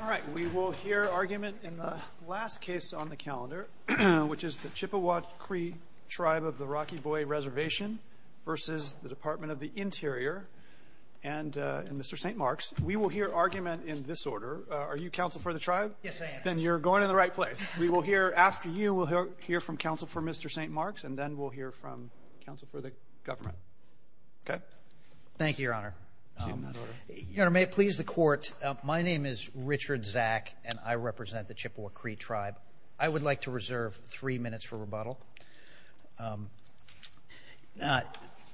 All right we will hear argument in the last case on the calendar which is the Chippewa Cree Tribe of the Rocky Boy Reservation versus the Department of the Interior and Mr. St. Marks. We will hear argument in this order. Are you counsel for the tribe? Yes I am. Then you're going in the right place. We will hear after you we'll hear from counsel for Mr. St. Marks and then we'll hear from counsel for the government. Okay. Thank you your honor. Your honor may it please the court my name is Richard Zack and I represent the Chippewa Cree Tribe. I would like to reserve three minutes for rebuttal.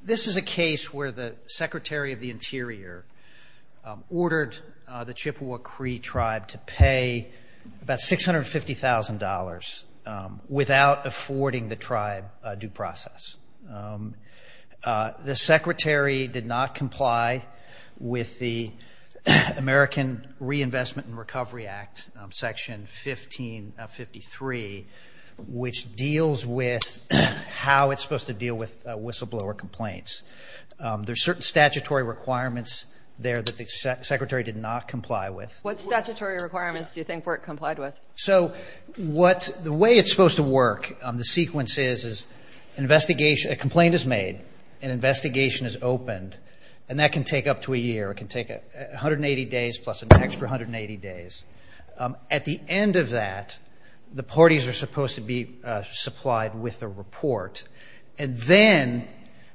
This is a case where the Secretary of the Interior ordered the Chippewa Cree Tribe to pay about six hundred fifty thousand dollars without affording the tribe due process. The secretary did not comply with the American Reinvestment and Recovery Act section 1553 which deals with how it's supposed to deal with whistleblower complaints. There are certain statutory requirements there that the secretary did not comply with. What statutory requirements do you think were complied with? So what the way it's supposed to work on the sequence is a complaint is made an investigation is at the end of that the parties are supposed to be supplied with the report and then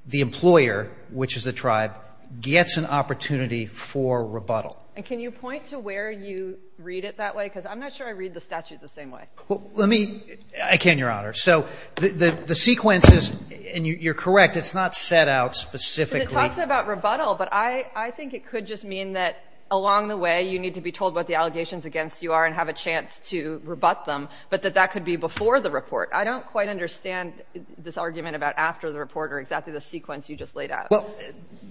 the employer which is the tribe gets an opportunity for rebuttal. And can you point to where you read it that way because I'm not sure I read the statute the same way. Let me I can your honor so the the sequence is and you're correct it's not set out specifically. It talks about rebuttal but I I think it could just mean that along the way you need to be told what the allegations against you are and have a chance to rebut them but that that could be before the report. I don't quite understand this argument about after the report or exactly the sequence you just laid out. Well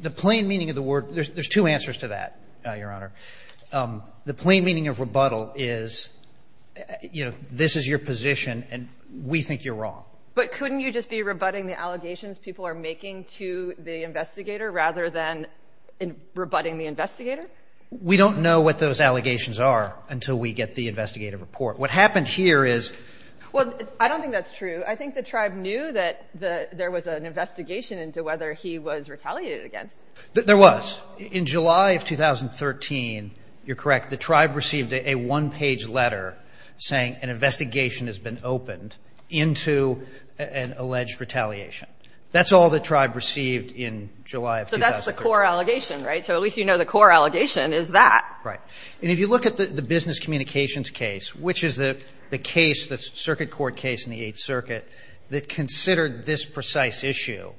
the plain meaning of the word there's two answers to that your honor. The plain meaning of rebuttal is you know this is your position and we think you're wrong. But couldn't you just be rebutting the allegations people are making to the investigator rather than in rebutting the investigator? We don't know what those allegations are until we get the investigative report. What happened here is. Well I don't think that's true. I think the tribe knew that the there was an investigation into whether he was retaliated against. There was. In July of 2013 you're correct the tribe received a one-page letter saying an investigation has been opened into an alleged retaliation. That's all the tribe received in July of 2013. So that's the core allegation right? So at least you know the core allegation is that. Right and if you look at the business communications case which is the the case the circuit court case in the 8th Circuit that considered this precise issue.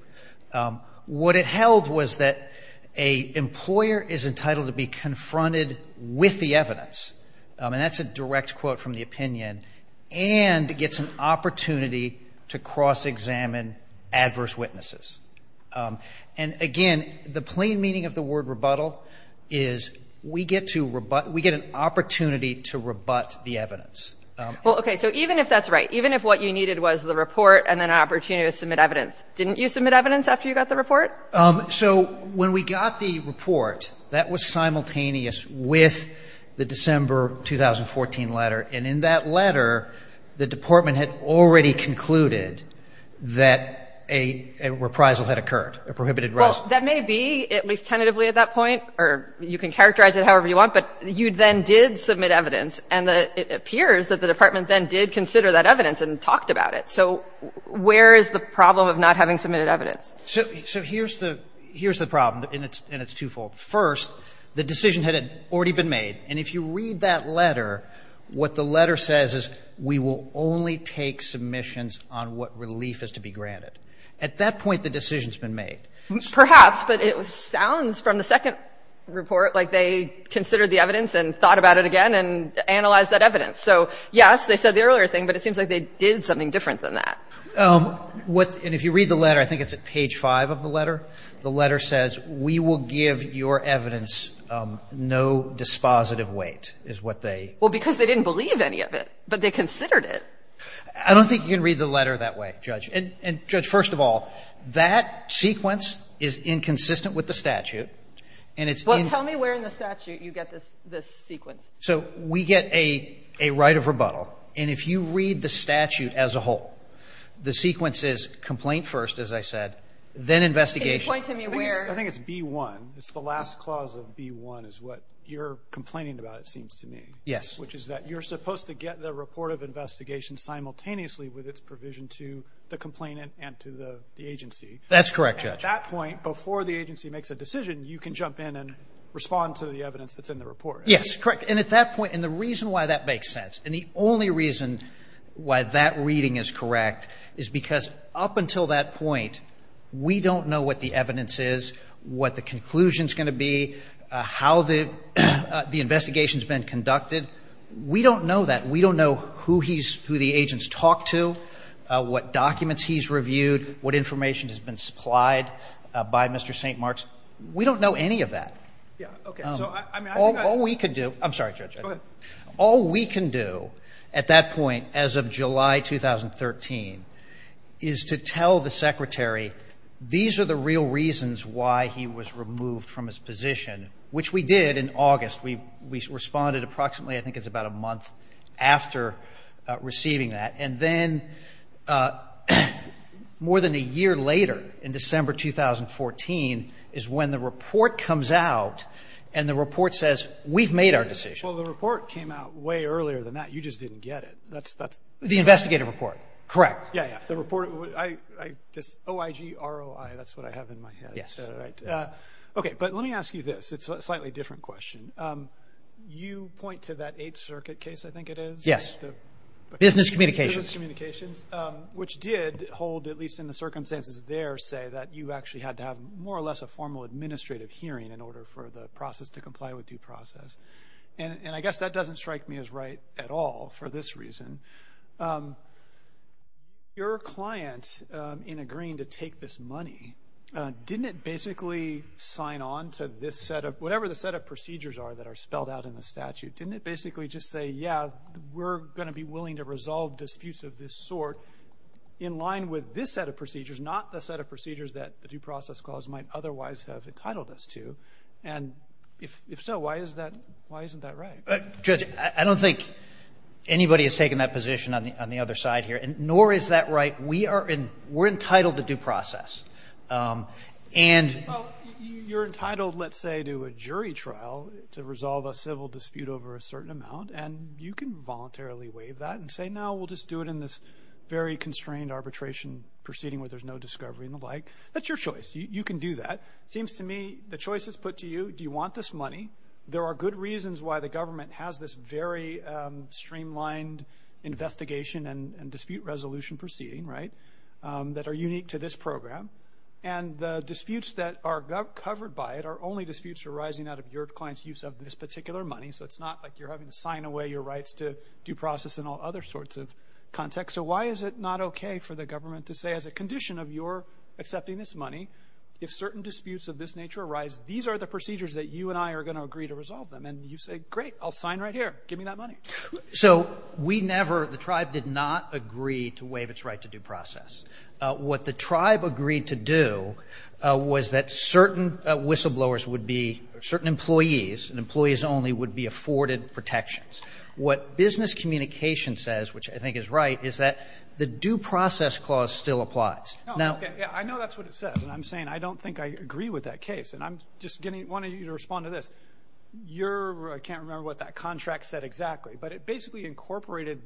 What it held was that a employer is entitled to be confronted with the evidence. And that's a direct quote from the opinion. And it gets an opportunity to cross-examine adverse witnesses. And again the plain meaning of the word rebuttal is we get to rebut. We get an opportunity to rebut the evidence. Well okay so even if that's right. Even if what you needed was the report and then opportunity to submit evidence. Didn't you submit evidence after you got the report? So when we got the report that was simultaneous with the December 2014 letter. And in that letter the department had already concluded that a reprisal had occurred. A prohibited arrest. That may be at least tentatively at that point. Or you can characterize it however you want. But you then did submit evidence. And it appears that the department then did consider that evidence and talked about it. So where is the problem of not having submitted evidence? So here's the problem and it's twofold. First the decision had already been made. And if you read that letter what the letter says is we will only take submissions on what relief is to be granted. At that point the decision's been made. Perhaps. But it sounds from the second report like they considered the evidence and thought about it again and analyzed that evidence. So yes they said the earlier thing. But it seems like they did something different than that. And if you read the letter, I think it's at page 5 of the letter, the letter says we will give your evidence no dispositive weight, is what they. Well, because they didn't believe any of it. But they considered it. I don't think you can read the letter that way, Judge. And, Judge, first of all, that sequence is inconsistent with the statute. And it's. Well, tell me where in the statute you get this sequence. So we get a right of rebuttal. And if you read the statute as a whole, the sequence is complaint first, as I said, then investigation. Can you point to me where? I think it's B1. It's the last clause of B1 is what you're complaining about, it seems to me. Yes. Which is that you're supposed to get the report of investigation simultaneously with its provision to the complainant and to the agency. That's correct, Judge. At that point, before the agency makes a decision, you can jump in and respond to the evidence that's in the report. Yes, correct. And at that point, and the reason why that makes sense, and the only reason why that reading is correct is because up until that point, we don't know what the evidence is, what the conclusion is going to be, how the investigation has been conducted. We don't know that. We don't know who he's, who the agents talked to, what documents he's reviewed, what information has been supplied by Mr. St. Marks. We don't know any of that. Yeah. Okay. So I mean, I think I. All we can do, I'm sorry, Judge, all we can do at that point, as of July 2013, is to tell the Secretary, these are the real reasons why he was removed from his position, which we did in August. We responded approximately, I think it's about a month after receiving that. And then, more than a year later, in December 2014, is when the report comes out, and the report says, we've made a decision Well, the report came out way earlier than that. You just didn't get it. That's, that's. The investigative report. Correct. Yeah, yeah. The report, I, I just, OIG, ROI, that's what I have in my head. Yes. Right. Okay. But let me ask you this. It's a slightly different question. You point to that Eighth Circuit case, I think it is. Yes. Business communications. Business communications, which did hold, at least in the circumstances there, say that you actually had to have more or less a formal administrative hearing in order for the process to comply with due process. And, and I guess that doesn't strike me as right at all for this reason. Your client, in agreeing to take this money, didn't it basically sign on to this set of, whatever the set of procedures are that are spelled out in the statute, didn't it basically just say, yeah, we're going to be willing to resolve disputes of this sort in line with this set of procedures, not the set of procedures that the due process might otherwise have entitled us to? And if, if so, why is that, why isn't that right? Judge, I don't think anybody has taken that position on the, on the other side here. And nor is that right. We are in, we're entitled to due process. And Well, you're entitled, let's say, to a jury trial to resolve a civil dispute over a certain amount. And you can voluntarily waive that and say, no, we'll just do it in this very constrained arbitration proceeding where there's no discovery and the like. That's your choice. You can do that. It seems to me the choice is put to you. Do you want this money? There are good reasons why the government has this very streamlined investigation and dispute resolution proceeding, right, that are unique to this program. And the disputes that are covered by it are only disputes arising out of your client's use of this particular money. So it's not like you're having to sign away your rights to due process and all other sorts of context. So why is it not okay for the accepting this money if certain disputes of this nature arise? These are the procedures that you and I are going to agree to resolve them. And you say, great, I'll sign right here. Give me that money. So we never, the tribe did not agree to waive its right to due process. What the tribe agreed to do was that certain whistleblowers would be, certain employees and employees only would be afforded protections. What business communication says, which I think is right, is that the due process clause still applies. I know that's what it says. And I'm saying, I don't think I agree with that case. And I'm just wanting you to respond to this. I can't remember what that contract said exactly, but it basically incorporated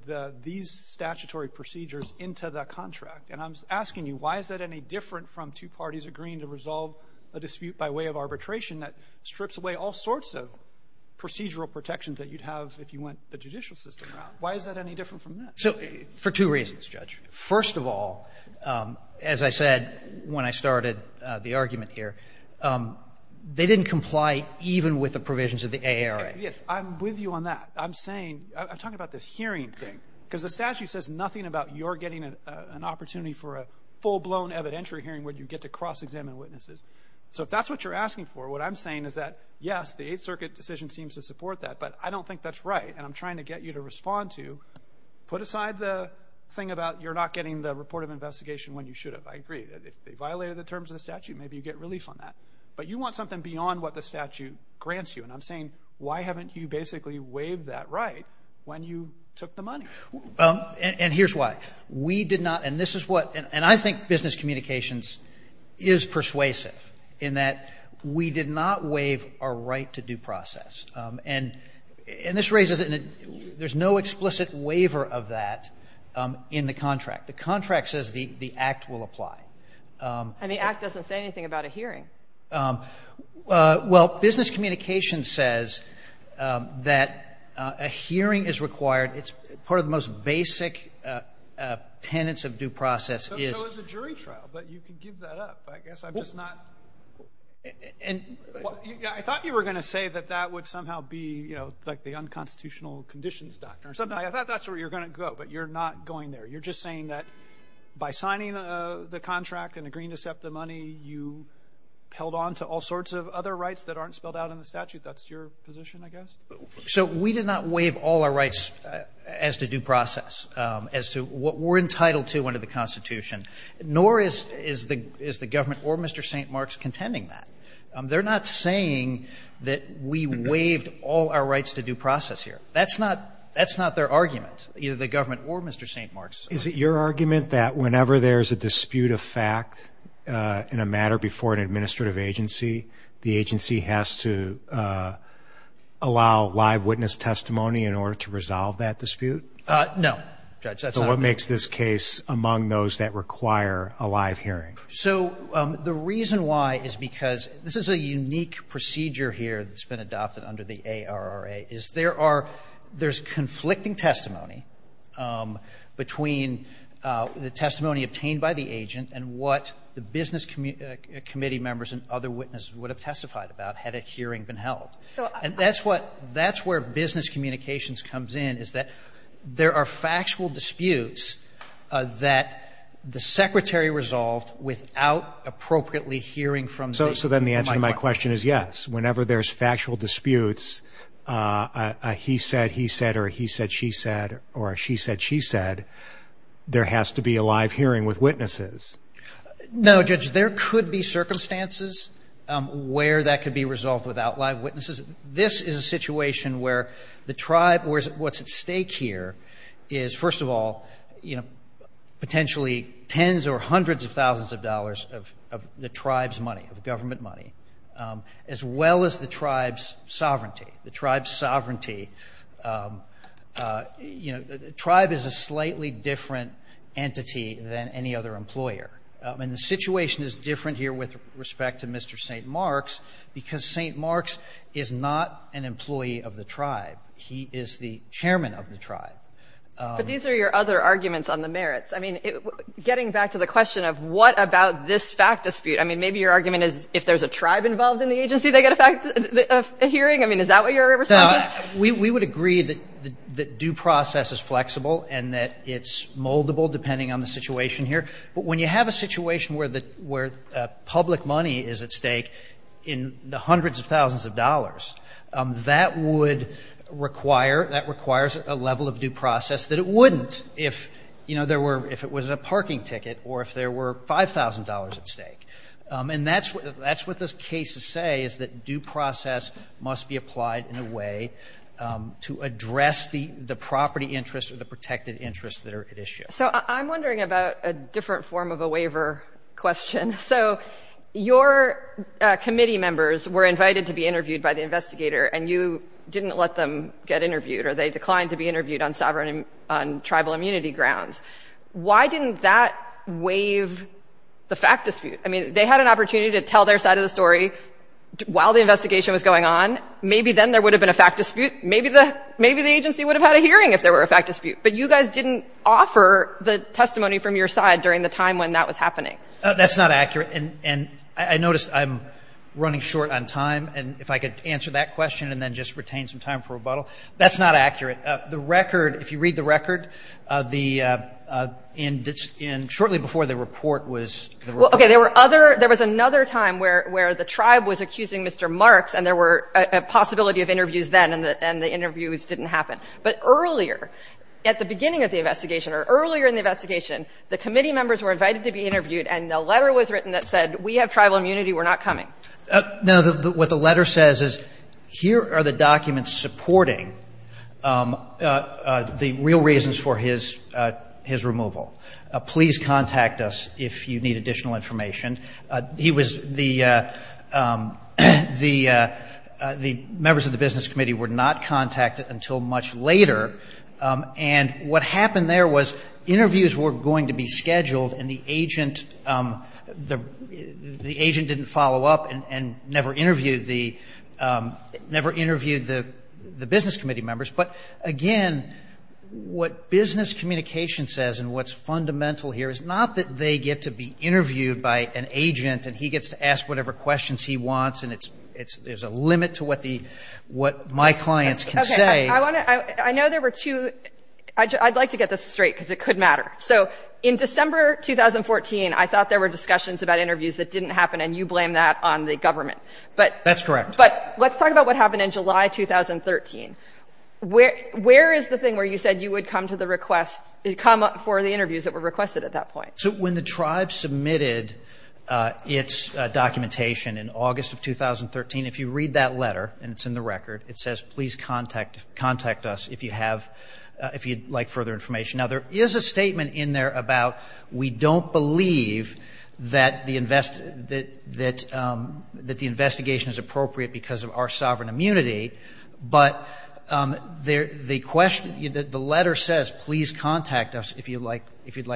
these statutory procedures into the contract. And I'm asking you, why is that any different from two parties agreeing to resolve a dispute by way of arbitration that strips away all sorts of procedural protections that you'd have if you went the judicial system route? Why is that any different from that? So for two reasons, Judge. First of all, as I said when I started the argument here, they didn't comply even with the provisions of the AERA. Yes, I'm with you on that. I'm saying, I'm talking about this hearing thing, because the statute says nothing about your getting an opportunity for a full blown evidentiary hearing where you get to cross-examine witnesses. So if that's what you're asking for, what I'm saying is that, yes, the Eighth Circuit decision seems to support that, but I don't think that's right. And I'm trying to get you to respond to, put aside the thing about you're not getting the report of investigation when you should have. I agree. If they violated the terms of the statute, maybe you get relief on that. But you want something beyond what the statute grants you. And I'm saying, why haven't you basically waived that right when you took the money? And here's why. We did not, and this is what, and I think business communications is persuasive in that we did not waive our right to due process. And this raises, and there's no explicit waiver of that in the contract. The contract says the Act will apply. And the Act doesn't say anything about a hearing. Well, business communications says that a hearing is required. It's part of the most basic tenets of due process is So it's a jury trial, but you can give that up, I guess. I'm just not. And I thought you were going to say that that would somehow be, you know, like the unconstitutional conditions doctor or something. I thought that's where you're going to go, but you're not going there. You're just saying that by signing the contract and agreeing to accept the money, you held on to all sorts of other rights that aren't spelled out in the statute. That's your position, I guess. So we did not waive all our rights as to due process, as to what we're entitled to under the Constitution, nor is the government or Mr. St. Mark's contending that. They're not saying that we waived all our rights to due process here. That's not their argument, either the government or Mr. St. Mark's. Is it your argument that whenever there's a dispute of fact in a matter before an administrative agency, the agency has to allow live witness testimony in order to resolve that dispute? No, Judge. So what makes this case among those that require a live hearing? So the reason why is because this is a unique procedure here that's been adopted under the ARRA, is there are – there's conflicting testimony between the testimony obtained by the agent and what the business committee members and other witnesses would have testified about had a hearing been held. And that's what – that's business communications comes in, is that there are factual disputes that the secretary resolved without appropriately hearing from the – So then the answer to my question is yes. Whenever there's factual disputes, he said, he said, or he said, she said, or she said, she said, there has to be a live hearing with witnesses. No, Judge. There could be circumstances where that could be resolved without live witnesses. This is a situation where the tribe – what's at stake here is, first of all, you know, potentially tens or hundreds of thousands of dollars of the tribe's money, of government money, as well as the tribe's sovereignty. The tribe's sovereignty – you know, the tribe is a slightly different entity than any other employer. And the situation is different here with respect to Mr. St. Marks because St. Marks is not an employee of the tribe. He is the chairman of the tribe. But these are your other arguments on the merits. I mean, getting back to the question of what about this fact dispute, I mean, maybe your argument is if there's a tribe involved in the agency, they get a fact – a hearing. I mean, is that what your response is? We would agree that due process is flexible and that it's moldable, depending on the situation here. But when you have a situation where the – where public money is at stake in the hundreds of thousands of dollars, that would require – that requires a level of due process that it wouldn't if, you know, there were – if it was a parking ticket or if there were $5,000 at stake. And that's what those cases say, is that due process must be applied in a way to address the property interests or the protected interests that are at issue. So I'm wondering about a different form of a waiver question. So your committee members were invited to be interviewed by the investigator, and you didn't let them get interviewed, or they declined to be interviewed on sovereign – on tribal immunity grounds. Why didn't that waive the fact dispute? I mean, they had an opportunity to tell their side of the story while the investigation was going on. Maybe then there would have been a fact dispute. Maybe the – maybe the agency would have had a hearing if there were a fact dispute. But you guys didn't offer the testimony from your side during the time when that was happening. That's not accurate. And I noticed I'm running short on time, and if I could answer that question and then just retain some time for rebuttal. That's not accurate. The record – if you read the record, the – in – shortly before the report was – Well, okay. There were other – there was another time where the tribe was accusing Mr. Marks, and there were a possibility of interviews then, and the interviews didn't happen. But earlier, at the beginning of the investigation, or earlier in the investigation, the committee members were invited to be interviewed, and a letter was written that said, we have tribal immunity, we're not coming. No. What the letter says is, here are the documents supporting the real reasons for his – his removal. Please contact us if you need additional information. He was – the members of the business committee were not contacted until much later. And what happened there was interviews were going to be scheduled, and the agent – the agent didn't follow up and never interviewed the – never interviewed the business committee members. But again, what business communication says and what's fundamental here is not that they get to be an agent and he gets to ask whatever questions he wants and it's – there's a limit to what the – what my clients can say. Okay. I want to – I know there were two – I'd like to get this straight, because it could matter. So in December 2014, I thought there were discussions about interviews that didn't happen, and you blame that on the government. But – That's correct. But let's talk about what happened in July 2013. Where is the thing where you said you would come to the request – come for the interviews that were requested at that point? So when the tribe submitted its documentation in August of 2013, if you read that letter – and it's in the record – it says, please contact us if you have – if you'd like further information. Now, there is a statement in there about we don't believe that the – that the investigation is appropriate because of our sovereign immunity, but the question – the letter says, please contact us if you'd like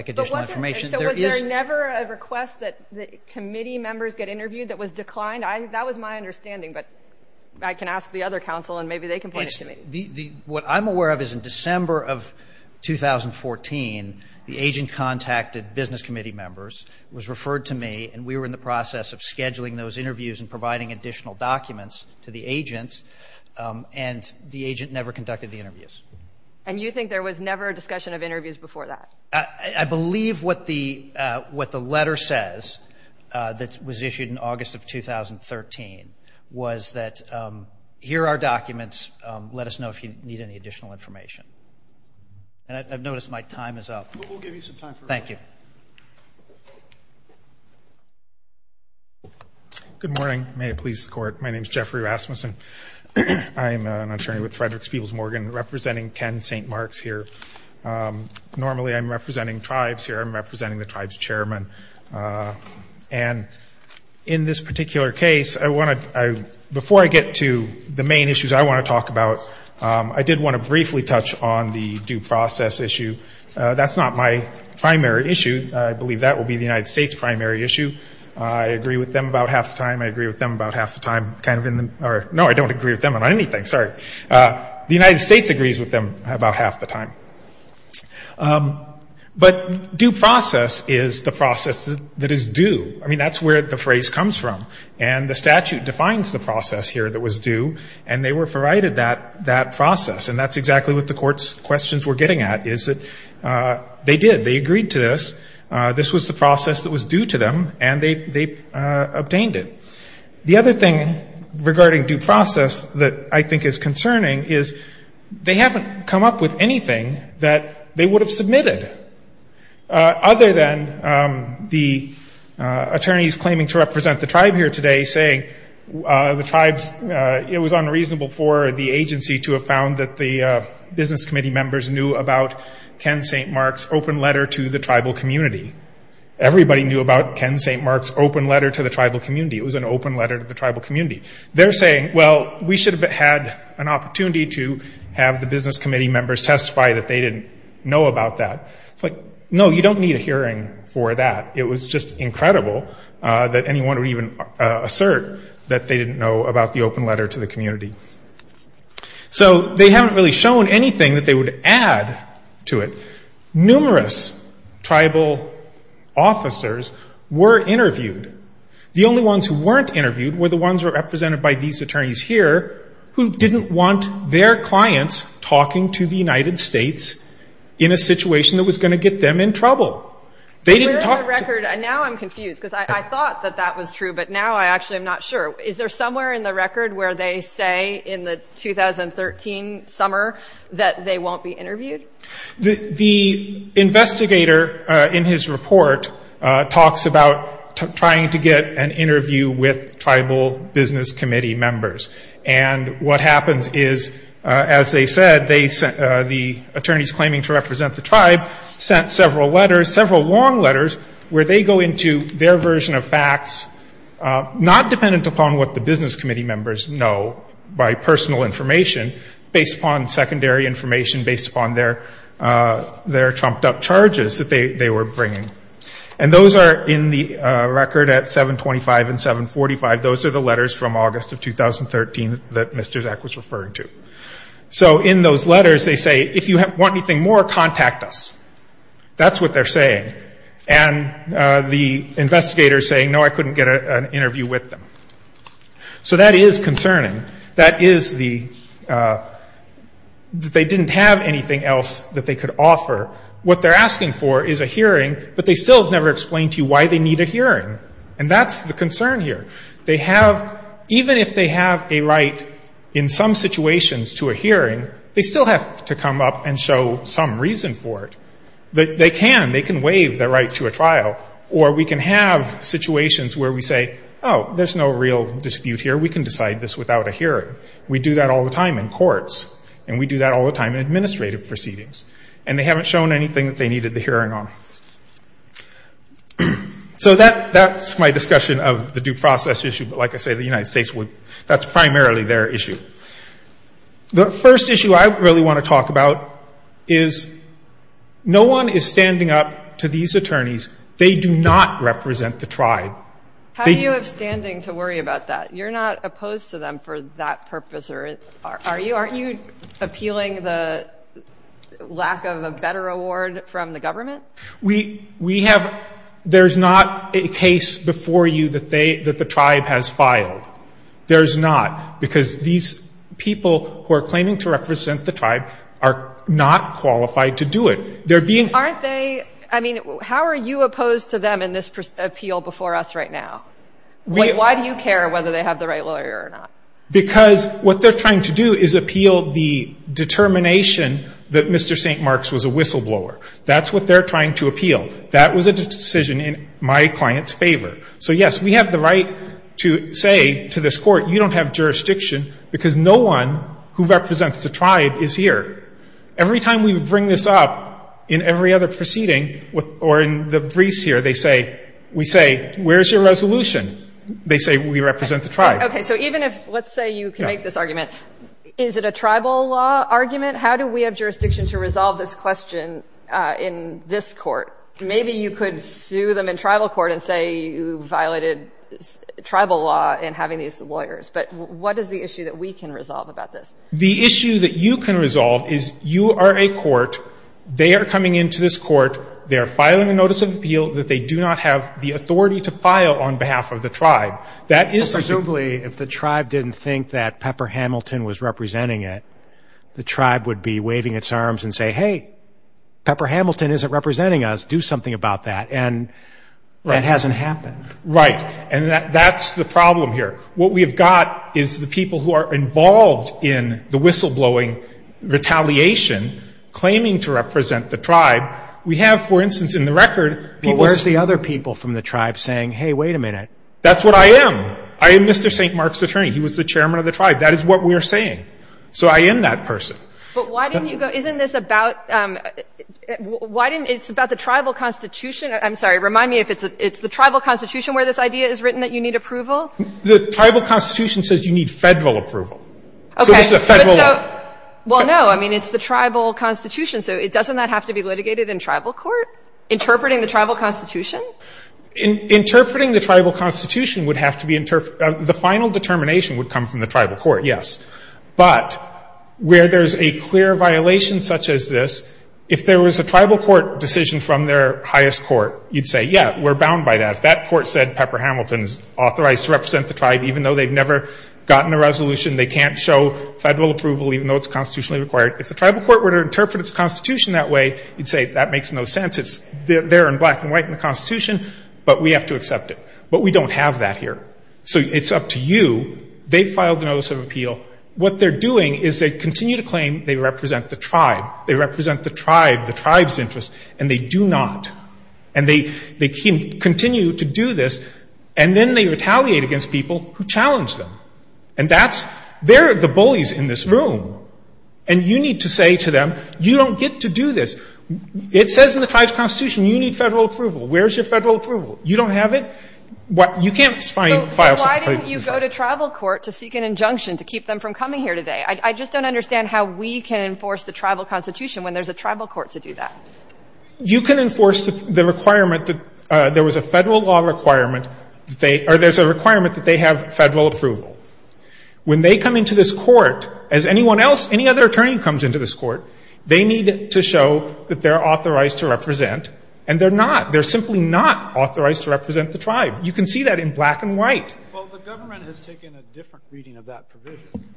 additional information. So was there never a request that the committee members get interviewed that was declined? That was my understanding, but I can ask the other counsel, and maybe they can point it to me. What I'm aware of is in December of 2014, the agent contacted business committee members, was referred to me, and we were in the process of scheduling those interviews and providing additional documents to the agents, and the agent never conducted the interviews. And you think there was never a discussion of interviews before that? I believe what the – what the letter says that was issued in August of 2013 was that here are documents. Let us know if you need any additional information. And I've noticed my time is up. But we'll give you some time for – Thank you. Good morning. May it please the Court. My name is Jeffrey Rasmussen. I am an attorney with Fredericks Peebles Morgan representing Ken St. Marks here. Normally I'm representing tribes here. I'm representing the tribe's chairman. And in this particular case, I want to – before I get to the main issues I want to talk about, I did want to briefly touch on the due process issue. That's not my primary issue. I believe that will be the United States' primary issue. I agree with them about half the time. I agree with them about half the time, kind of in the – or no, I don't agree with them on anything. Sorry. The United States agrees with them about half the time. But due process is the process that is due. I mean, that's where the phrase comes from. And the statute defines the process here that was due, and they were provided that process. And that's exactly what the Court's questions we're getting at, is that they did. They agreed to this. This was the process that was due to them, and they obtained it. The other thing regarding due process that I think is concerning is they haven't come up with anything that they would have submitted, other than the attorneys claiming to represent the tribe here today saying the tribe's – it was unreasonable for the agency to have found that the business committee members knew about Ken St. Mark's open letter to the tribal community. Everybody knew about Ken St. Mark's open letter to the tribal community. It was an open letter to the tribal community. They're saying, well, we should have had an opportunity to have the business committee members testify that they didn't know about that. It's like, no, you don't need a hearing for that. It was just incredible that anyone would even assert that they didn't know about the open letter to the community. So they haven't really shown anything that they would add to it. Numerous tribal officers were interviewed. The only ones who weren't interviewed were the ones who were represented by these attorneys here who didn't want their clients talking to the United States in a situation that was going to get them in trouble. They didn't talk – But where in the record – and now I'm confused because I thought that that was true, but now I actually am not sure. Is there somewhere in the record where they say in the 2013 summer that they won't be interviewed? The investigator in his report talks about trying to get an interview with tribal business committee members. And what happens is, as they said, the attorneys claiming to represent the tribe sent several letters, several long letters, where they go into their version of facts, not dependent upon what the business committee members know by personal information, based upon secondary information, based upon their trumped-up charges that they were bringing. And those are in the record at 725 and 745. Those are the letters from August of 2013 that Mr. Zak was referring to. So in those letters, they say, if you want anything more, contact us. That's what they're saying. And the investigator is saying, no, I couldn't get an interview with them. So that is concerning. That is the – that they didn't have anything else that they could offer. What they're asking for is a hearing, but they still have never explained to you why they need a hearing. And that's the concern here. They have – even if they have a right in some situations to a hearing, they still have to come up and show some reason for it. They can. They can waive their right to a trial, or we can have situations where we say, oh, there's no real dispute here. We can decide this without a hearing. We do that all the time in courts. And we do that all the time in administrative proceedings. And they haven't shown anything that they needed the hearing on. So that – that's my discussion of the due process issue. But like I say, the United States would – that's primarily their issue. The first issue I really want to talk about is no one is standing up to these attorneys. They do not represent the tribe. MS. GOTTLIEB How do you have standing to worry about that? You're not opposed to them for that purpose, are you? Aren't you appealing the lack of a better award from the government? MR. GOLDSMITH We have – there's not a case before you that they – that the tribe has filed. There's not. Because these people who are claiming to represent the tribe are not qualified to do it. They're being – MS. GOTTLIEB Aren't they – I mean, how are you opposed to them in this appeal before us right now? Like, why do you care whether they have the right lawyer or not? MR. GOLDSMITH Because what they're trying to do is appeal the determination that Mr. St. Mark's was a whistleblower. That's what they're trying to appeal. That was a decision in my client's favor. So, yes, we have the right to say to this Every time we bring this up in every other proceeding or in the briefs here, they say – we say, where's your resolution? They say we represent the tribe. MS. GOTTLIEB Okay. So even if – let's say you can make this argument. Is it a tribal law argument? How do we have jurisdiction to resolve this question in this court? Maybe you could sue them in tribal court and say you violated tribal law in having these lawyers. But what is the issue that we can resolve about this? MR. GOLDSMITH The issue that you can resolve is you are a court. They are coming into this court. They are filing a notice of appeal that they do not have the authority to file on behalf of the tribe. That is the issue. MR. RIEFFEL Presumably, if the tribe didn't think that Pepper Hamilton was representing it, the tribe would be waving its arms and say, hey, Pepper Hamilton isn't representing us. Do something about that. And that hasn't happened. MR. GOLDSMITH Right. And that's the problem here. What we have got is the whistleblowing, retaliation, claiming to represent the tribe. We have, for instance, in the record – MR. RIEFFEL But where is the other people from the tribe saying, hey, wait a minute? MR. GOLDSMITH That's what I am. I am Mr. St. Mark's attorney. He was the chairman of the tribe. That is what we are saying. So I am that person. MS. GOTTLIEB But why didn't you go – isn't this about – why didn't – it's about the tribal constitution – I'm sorry. Remind me if it's the tribal constitution where this idea is written that you need approval? MS. GOTTLIEB Okay. MS. GOTTLIEB Well, no. I mean, it's the tribal constitution. So doesn't that have to be litigated in tribal court, interpreting the tribal constitution? MR. RIEFFEL Interpreting the tribal constitution would have to be – the final determination would come from the tribal court, yes. But where there is a clear violation such as this, if there was a tribal court decision from their highest court, you would say, yeah, we are bound by that. If that court said Pepper Hamilton is authorized to represent the tribe even though they have never gotten a resolution, they can't show federal approval even though it's constitutionally required, if the tribal court were to interpret its constitution that way, you'd say that makes no sense. It's there in black and white in the constitution, but we have to accept it. But we don't have that here. So it's up to you. They filed a notice of appeal. What they're doing is they continue to claim they represent the tribe. They represent the tribe, the tribe's interest, and they do not. And they continue to do this, and then they And that's – they're the bullies in this room. And you need to say to them, you don't get to do this. It says in the tribe's constitution you need federal approval. Where is your federal approval? You don't have it? You can't find files of claimant's rights. MS. MCGOWAN So why didn't you go to tribal court to seek an injunction to keep them from coming here today? I just don't understand how we can enforce the tribal constitution when there's a tribal court to do that. MR. RIEFFEL You can enforce the requirement that there was a federal law requirement or there's a requirement that they have federal approval. When they come into this court, as anyone else, any other attorney comes into this court, they need to show that they're authorized to represent. And they're not. They're simply not authorized to represent the tribe. You can see that in black and white. MS. MCGOWAN Well, the government has taken a different reading of that provision.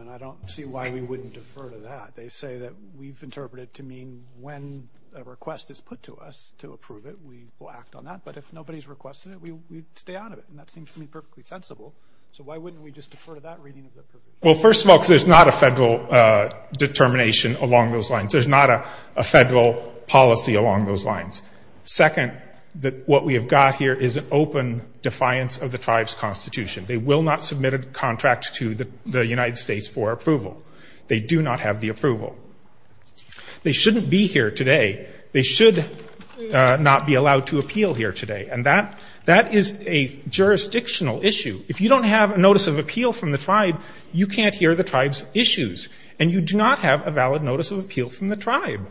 And I don't see why we wouldn't defer to that. They say that we've interpreted it to mean when a request is put to us to approve it, we will act on that. But if nobody's requested it, we stay out of it. And that seems to me perfectly sensible. So why wouldn't we just defer to that reading of the MR. RIEFFEL Well, first of all, because there's not a federal determination along those lines. There's not a federal policy along those lines. Second, what we have got here is an open defiance of the tribe's constitution. They will not submit a contract to the United States for approval. They do not have the approval. They shouldn't be here today. They should not be allowed to appeal here today. And that is a jurisdictional issue. If you don't have a notice of appeal from the tribe, you can't hear the tribe's issues. And you do not have a valid notice of appeal from the tribe.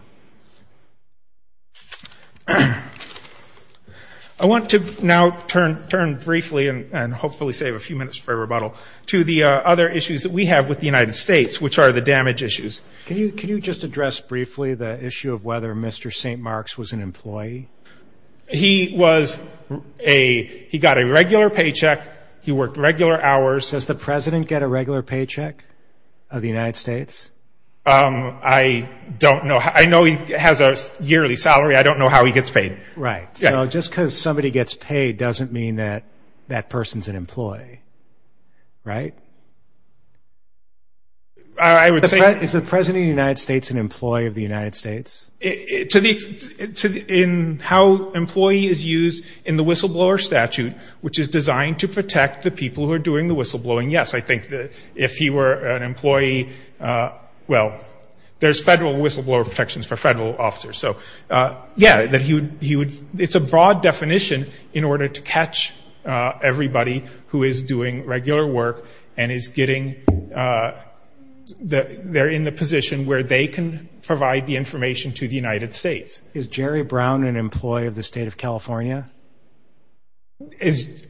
I want to now turn briefly and hopefully save a few minutes for rebuttal to the other issues that we have with the United States, which are the damage issues. MR. MCGOWAN Can you just address briefly the issue of whether Mr. St. Mark's was an employee? MR. RIEFFEL He was a he got a regular paycheck. He worked regular hours. MR. MCGOWAN Does the President get a regular paycheck of the United States? MR. RIEFFEL I don't know. I know he has a yearly salary. I don't know how he gets paid. MR. MCGOWAN Right. So just because somebody gets paid doesn't mean that that person's an employee, right? MR. RIEFFEL I would say MR. MCGOWAN Is the President of the United States an employee of the United States? MR. RIEFFEL In how employee is used in the whistleblower statute, which is designed to protect the people who are doing the whistleblowing, yes. I think if he were an employee, well, there's federal whistleblower protections for federal officers. So, yeah, it's a broad definition in order to catch everybody who is doing regular work and is getting they're in the position where they can provide the information to the United States. MR. MCGOWAN Is Jerry Brown an employee of the State of California? MR.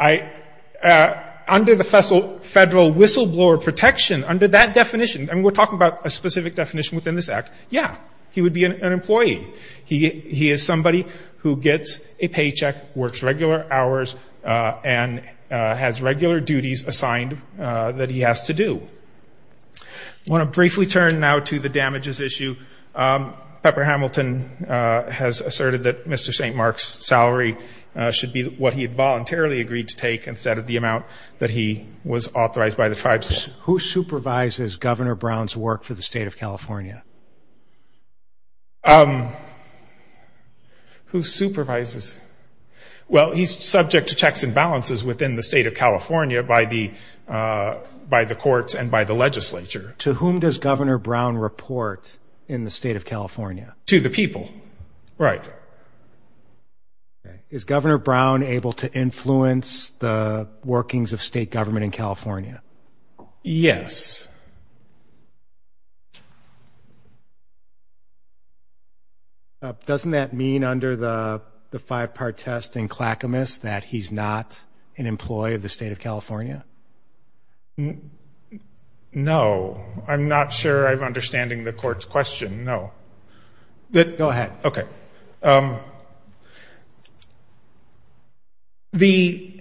RIEFFEL Under the federal whistleblower protection, under that definition, and we're talking about a specific definition within this act, yeah, he would be an employee. He is somebody who gets a paycheck, works regular hours, and has regular duties assigned that he has to do. MR. MCGOWAN I want to briefly turn now to the damages issue. Pepper Hamilton has asserted that Mr. St. Mark's salary should be what he had voluntarily agreed to take instead of the amount that he was authorized by the tribes. MR. MCGOWAN Who supervises Governor Brown's work for the State of California? MR. RIEFFEL Who supervises? Well, he's subject to checks and balances within the State of California by the courts and by the legislature. MR. MCGOWAN To whom does Governor Brown report in the State of California? MR. RIEFFEL To the people. Right. MR. MCGOWAN Is Governor Brown able to influence the workings of state government in California? MR. RIEFFEL Yes. MR. MCGOWAN Doesn't that mean under the five-part test in Clackamas that he's not an employee of the State of California? MR. RIEFFEL No. I'm not sure I'm understanding the court's question. No. MR. MCGOWAN Go ahead. MR. RIEFFEL Okay. The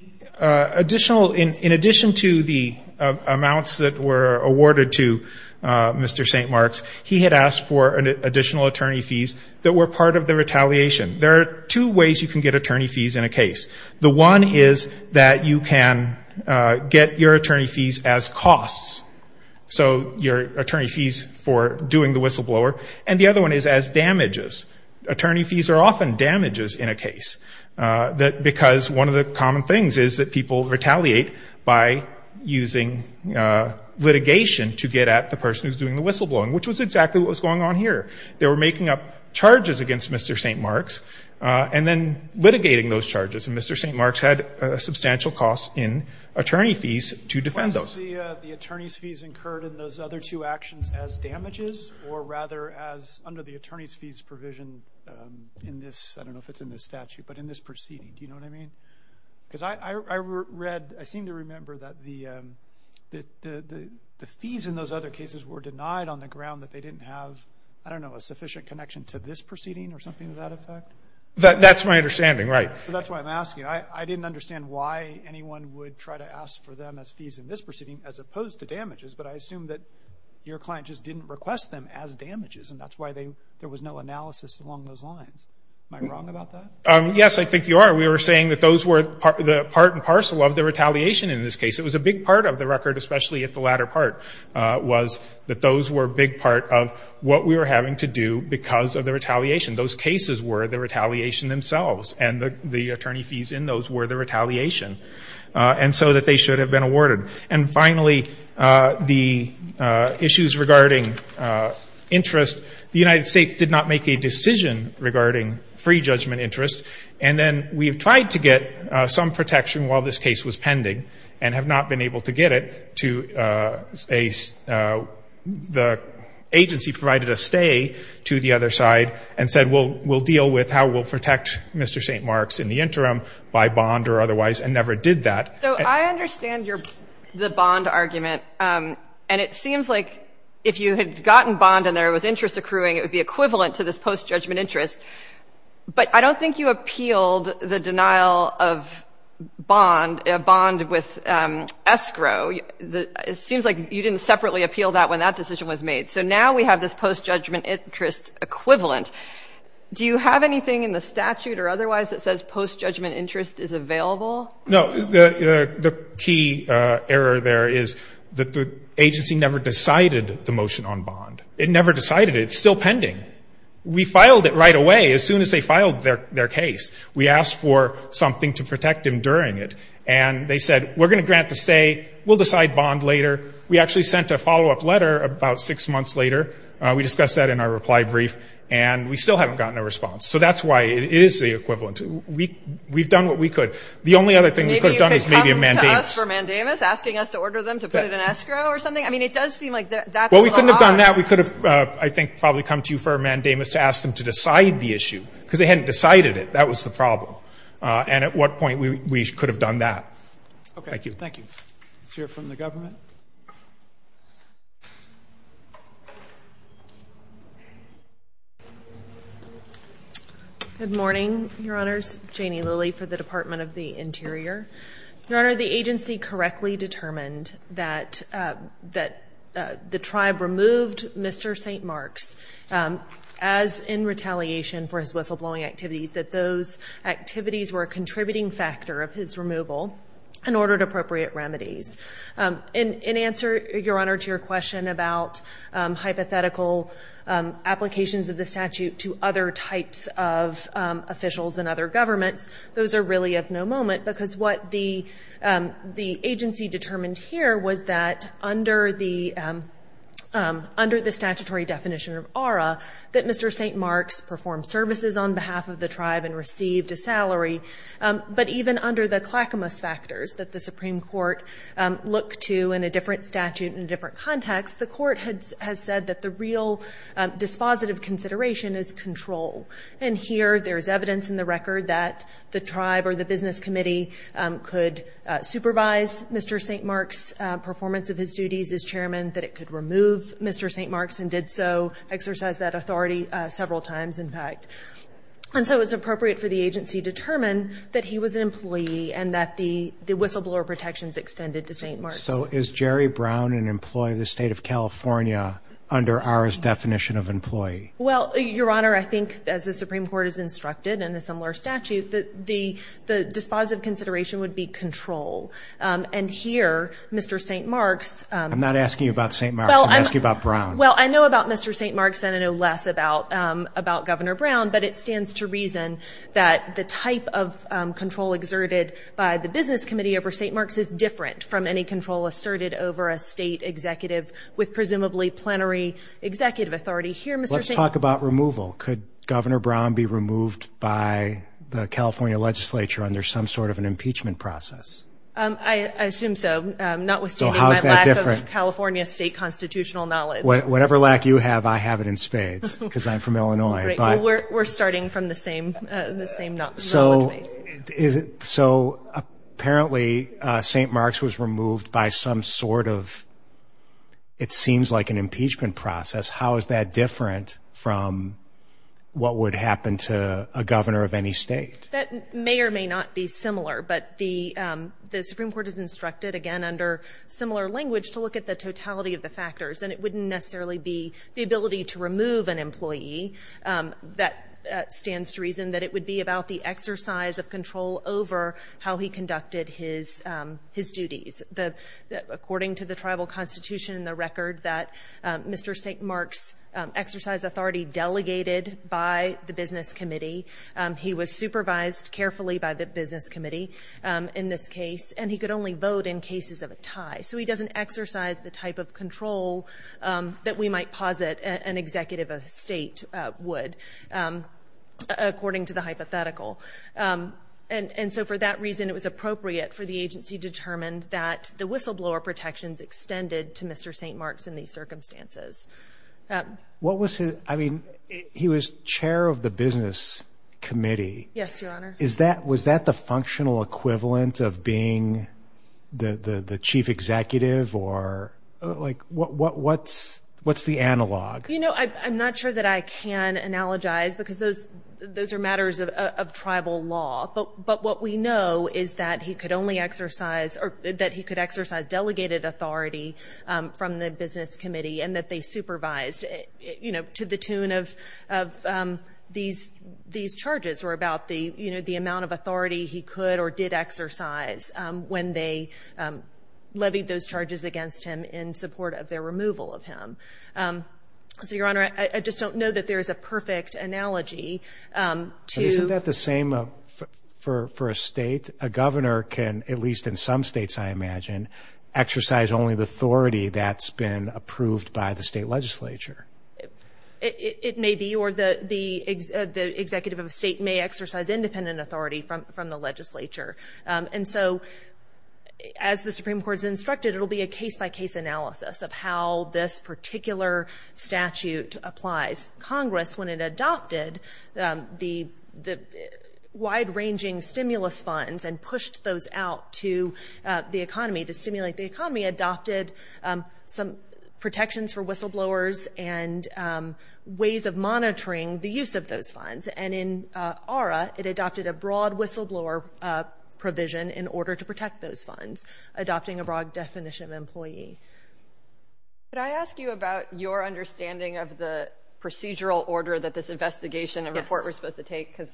additional, in addition to the amounts that were awarded to Mr. St. Mark's, he had asked for additional attorney fees that were part of the retaliation. There are two ways you can get attorney fees in a case. One is that you can get your attorney fees as costs, so your attorney fees for doing the whistleblower. And the other one is as damages. Attorney fees are often damages in a case because one of the common things is that people retaliate by using litigation to get at the person who's doing the whistleblowing, which was exactly what was going on here. They were making up charges against Mr. St. Mark's and then litigating those charges. And Mr. St. Mark's had a substantial cost in attorney fees to defend those. MR. MCGOWAN Was the attorney's fees incurred in those other two actions as damages or rather as under the attorney's fees provision in this, I don't know if it's in this statute, but in this proceeding? Do you know what I mean? Because I read, I seem to remember that the fees in those other cases were denied on the ground that they didn't have, I don't know, a sufficient connection to this proceeding or something to that effect? MR. RIEFFEL That's my understanding, right. MR. MCGOWAN That's why I'm asking. I didn't understand why anyone would try to ask for them as fees in this proceeding as opposed to damages, but I assume that your client just didn't request them as damages, and that's why there was no analysis along those lines. Am I wrong about that? MR. RIEFFEL Yes, I think you are. We were saying that those were the part and parcel of the retaliation in this case. It was a big part of the record, especially at the latter part, was that those were a big part of what we were having to do because of the retaliation. Those cases were the retaliation themselves, and the attorney fees in those were the retaliation, and so that they should have been awarded. And finally, the issues regarding interest, the United States did not make a decision regarding free judgment interest, and then we have tried to get some protection while this case was pending and have not been able to get it. The agency provided a stay to the other side and said, we'll deal with how we'll protect Mr. St. Marks in the interim by bond or otherwise, and never did that. MS. GOTTLIEB So I understand the bond argument, and it seems like if you had gotten bond and there was interest accruing, it would be equivalent to this post-judgment interest. But I don't think you appealed the denial of bond, a bond with escrow. It seems like you didn't separately appeal that when that decision was made. So now we have this post-judgment interest equivalent. Do you have anything in the statute or otherwise that says post-judgment interest is available? MR. GOTTLIEB No. The key error there is that the agency never decided the motion on bond. It never decided it. It's still pending. We filed it right away, as soon as they filed their case. We asked for something to protect him during it, and they said, we're going to grant the stay. We'll decide bond later. We actually sent a follow-up letter about six months later. We discussed that in our reply brief, and we still haven't gotten a response. So that's why it is the equivalent. We've done what we could. The only other thing we could have done is maybe a MS. GOTTLIEB Maybe you could come to us for a mandamus, asking us to order them to put it in escrow or something? I mean, it does seem like that's a lot. MR. GOTTLIEB Well, we couldn't have done that. We could have, I think, probably come to you for a mandamus to ask them to decide the issue, because they hadn't decided it. That was the problem. And at what point we could have done that. Thank you. MR. GOTTLIEB Let's hear from the government. MS. LILLY Good morning, Your Honors. Janie Lilly for the Department of the Interior. Your Honor, the agency correctly determined that the tribe removed Mr. St. Mark's as in retaliation for his whistleblowing activities, that those were appropriate remedies. In answer, Your Honor, to your question about hypothetical applications of the statute to other types of officials and other governments, those are really of no moment, because what the agency determined here was that under the statutory definition of ARRA, that Mr. St. Mark's performed services on behalf of the tribe and received a salary, but even under the clackamous factors that the Supreme Court looked to in a different statute in a different context, the court has said that the real dispositive consideration is control. And here there is evidence in the record that the tribe or the business committee could supervise Mr. St. Mark's performance of his duties as chairman, that it could remove Mr. St. Mark's and did so, exercised that authority several times, in fact. And so it was appropriate for the agency to determine that he was an employee and that the whistleblower protections extended to St. Mark's. So is Jerry Brown an employee of the state of California under ARRA's definition of employee? Well, Your Honor, I think as the Supreme Court has instructed in a similar statute, the dispositive consideration would be control. And here Mr. St. Mark's... I'm not asking you about St. Mark's, I'm asking you about Brown. Well, I know about Mr. St. Mark's and I know less about Governor Brown, but it stands to reason that the type of control exerted by the business committee over St. Mark's is different from any control asserted over a state executive with presumably plenary executive authority. Here Mr. St. Mark's... Let's talk about removal. Could Governor Brown be removed by the California legislature under some sort of an impeachment process? I assume so, notwithstanding my lack of California state constitutional knowledge. Whatever lack you have, I have it in spades because I'm from California. We're starting from the same knowledge base. So apparently St. Mark's was removed by some sort of, it seems like an impeachment process. How is that different from what would happen to a governor of any state? That may or may not be similar, but the Supreme Court has instructed, again under similar language, to look at the totality of the factors. And it wouldn't necessarily be the ability to remove an employee that stands to reason that it would be about the exercise of control over how he conducted his duties. According to the tribal constitution, the record that Mr. St. Mark's exercised authority delegated by the business committee, he was supervised carefully by the business committee in this case, and he could only vote in cases of a tie. So he doesn't exercise the type of control that we might posit an executive of the state would, according to the hypothetical. And so for that reason, it was appropriate for the agency determined that the whistleblower protections extended to Mr. St. Mark's in these circumstances. What was his, I mean, he was chair of the business committee. Yes, Your Honor. Was that the functional equivalent of being the chief executive or, like, what's the analog? You know, I'm not sure that I can analogize because those are matters of tribal law. But what we know is that he could only exercise or that he could exercise delegated authority from the business committee and that they supervised, you know, to the tune of these charges or about the, you know, the level of authority that he could or did exercise when they levied those charges against him in support of their removal of him. So Your Honor, I just don't know that there is a perfect analogy. Isn't that the same for a state? A governor can, at least in some states, I imagine, exercise only the authority that's been approved by the state legislature. It may be, or the executive of the state may exercise independent authority from the legislature. And so, as the Supreme Court has instructed, it'll be a case-by-case analysis of how this particular statute applies. Congress, when it adopted the wide-ranging stimulus funds and pushed those out to the economy to stimulate the economy, adopted some protections for whistleblowers and ways of protecting those funds. Adopting a broad definition of employee. Could I ask you about your understanding of the procedural order that this investigation and report was supposed to take? Because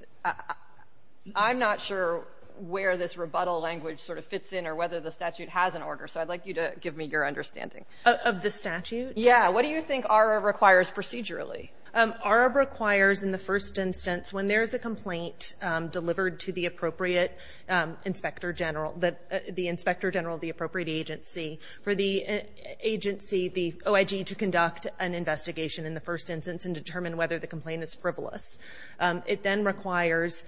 I'm not sure where this rebuttal language sort of fits in or whether the statute has an order. So I'd like you to give me your understanding. Of the statute? Yeah. What do you think ARA requires procedurally? ARA requires, in the first instance, when there's a complaint delivered to the appropriate inspector general, the inspector general of the appropriate agency, for the agency, the OIG, to conduct an investigation in the first instance and determine whether the complaint is frivolous. It then requires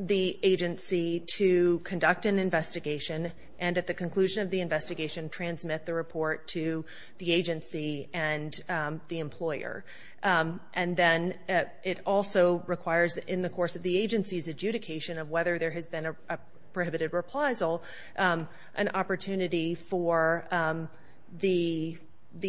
the agency to conduct an investigation and, at the employer. And then it also requires, in the course of the agency's adjudication of whether there has been a prohibited reprisal, an opportunity for the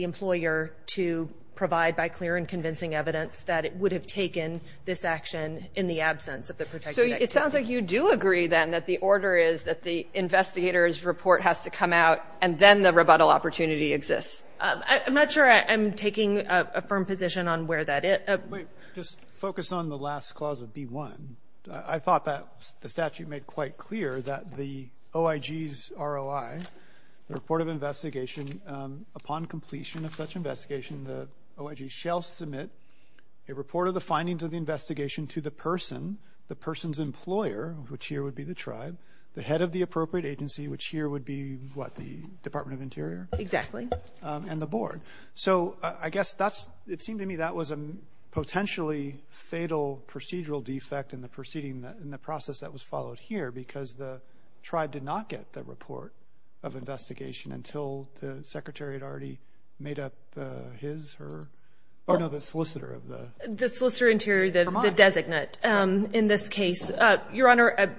employer to provide by clear and convincing evidence that it would have taken this action in the absence of the protected activity. So it sounds like you do agree, then, that the order is that the investigator's report has to come out and then the rebuttal opportunity exists. I'm not sure I'm taking a firm position on where that is. Wait. Just focus on the last clause of B1. I thought that the statute made quite clear that the OIG's ROI, the report of investigation, upon completion of such investigation, the OIG shall submit a report of the findings of the investigation to the person, the person's employer, which here would be the tribe, the head of the appropriate agency, which here would be, what, the Department of Interior? Exactly. And the board. So I guess that's, it seemed to me that was a potentially fatal procedural defect in the proceeding, in the process that was followed here, because the tribe did not get the report of investigation until the Secretary had already made up his or, oh, no, the solicitor of the. The solicitor interior, the designate in this case. Well, Your Honor, I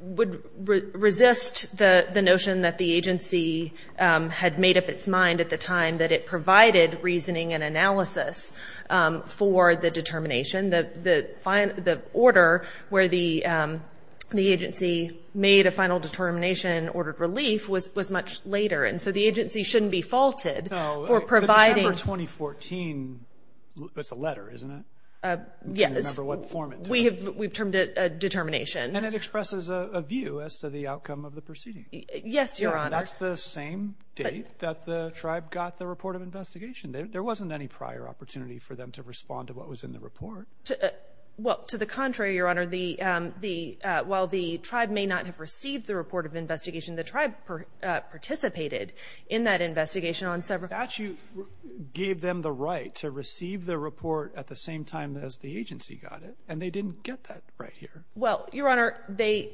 would resist the notion that the agency had made up its mind at the time that it provided reasoning and analysis for the determination. The order where the agency made a final determination and ordered relief was much later. And so the agency shouldn't be faulted for providing. No. But December 2014, that's a letter, isn't it? Yes. I don't remember what form it took. We've termed it a determination. And it expresses a view as to the outcome of the proceeding. Yes, Your Honor. That's the same date that the tribe got the report of investigation. There wasn't any prior opportunity for them to respond to what was in the report. Well, to the contrary, Your Honor, while the tribe may not have received the report of investigation, the tribe participated in that investigation on several. The statute gave them the right to receive the report at the same time as the agency got it, and they didn't get that right here. Well, Your Honor, they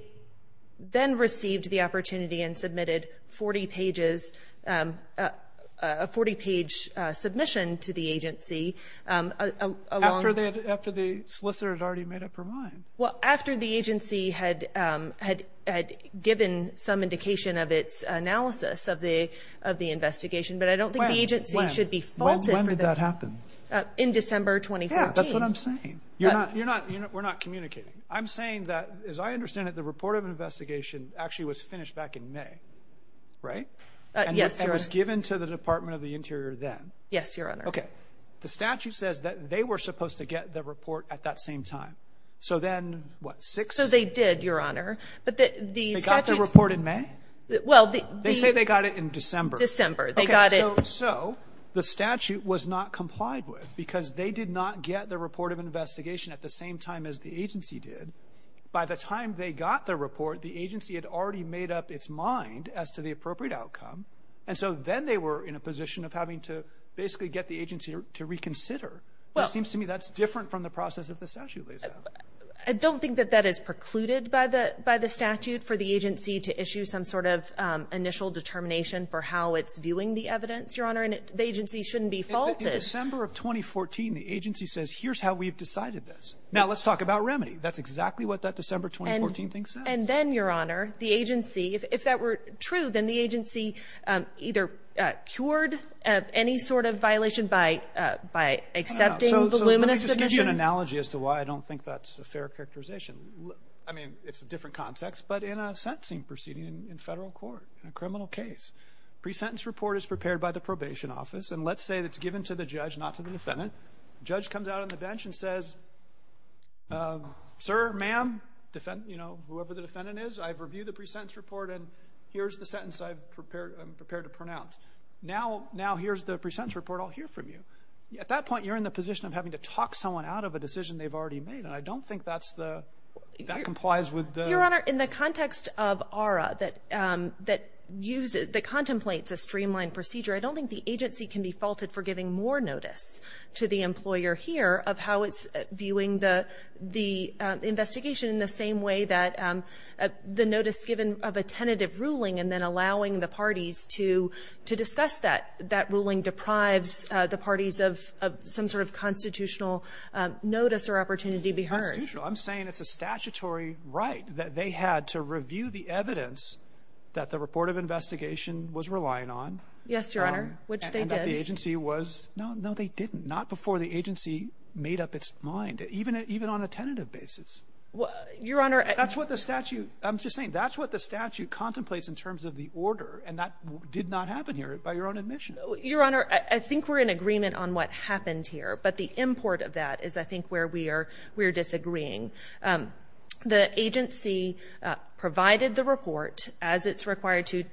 then received the opportunity and submitted a 40-page submission to the agency. After the solicitor had already made up her mind. Well, after the agency had given some indication of its analysis of the investigation. But I don't think the agency should be faulted for that. When did that happen? In December 2014. Yeah, that's what I'm saying. We're not communicating. I'm saying that, as I understand it, the report of investigation actually was finished back in May. Right? Yes, Your Honor. And it was given to the Department of the Interior then. Yes, Your Honor. Okay. The statute says that they were supposed to get the report at that same time. So then what? So they did, Your Honor. They got the report in May? They say they got it in December. December. They got it. So the statute was not complied with because they did not get the report of investigation at the same time as the agency did. By the time they got the report, the agency had already made up its mind as to the appropriate outcome. And so then they were in a position of having to basically get the agency to reconsider. It seems to me that's different from the process that the statute lays out. I don't think that that is precluded by the statute for the agency to issue some sort of initial determination for how it's viewing the evidence, Your Honor. And the agency shouldn't be faulted. In December of 2014, the agency says, here's how we've decided this. Now let's talk about remedy. That's exactly what that December 2014 thing says. And then, Your Honor, the agency, if that were true, then the agency either cured any sort of violation by accepting the luminous submissions. That's an analogy as to why I don't think that's a fair characterization. I mean, it's a different context. But in a sentencing proceeding in federal court, in a criminal case, pre-sentence report is prepared by the probation office. And let's say it's given to the judge, not to the defendant. The judge comes out on the bench and says, sir, ma'am, whoever the defendant is, I've reviewed the pre-sentence report, and here's the sentence I'm prepared to pronounce. Now here's the pre-sentence report. I'll hear from you. At that point, you're in the position of having to talk someone out of a decision they've already made. And I don't think that's the ‑‑ that complies with the ‑‑ Your Honor, in the context of ARA that uses ‑‑ that contemplates a streamlined procedure, I don't think the agency can be faulted for giving more notice to the employer here of how it's viewing the investigation in the same way that the notice given of a tentative ruling and then allowing the parties to discuss that. That ruling deprives the parties of some sort of constitutional notice or opportunity to be heard. I'm saying it's a statutory right that they had to review the evidence that the report of investigation was relying on. Yes, Your Honor, which they did. And that the agency was ‑‑ no, no, they didn't. Not before the agency made up its mind, even on a tentative basis. Your Honor, I ‑‑ That's what the statute ‑‑ I'm just saying, that's what the statute contemplates in terms of the order, and that did not happen here by your own admission. Your Honor, I think we're in agreement on what happened here, but the import of that is, I think, where we are disagreeing. The agency provided the report as it's required to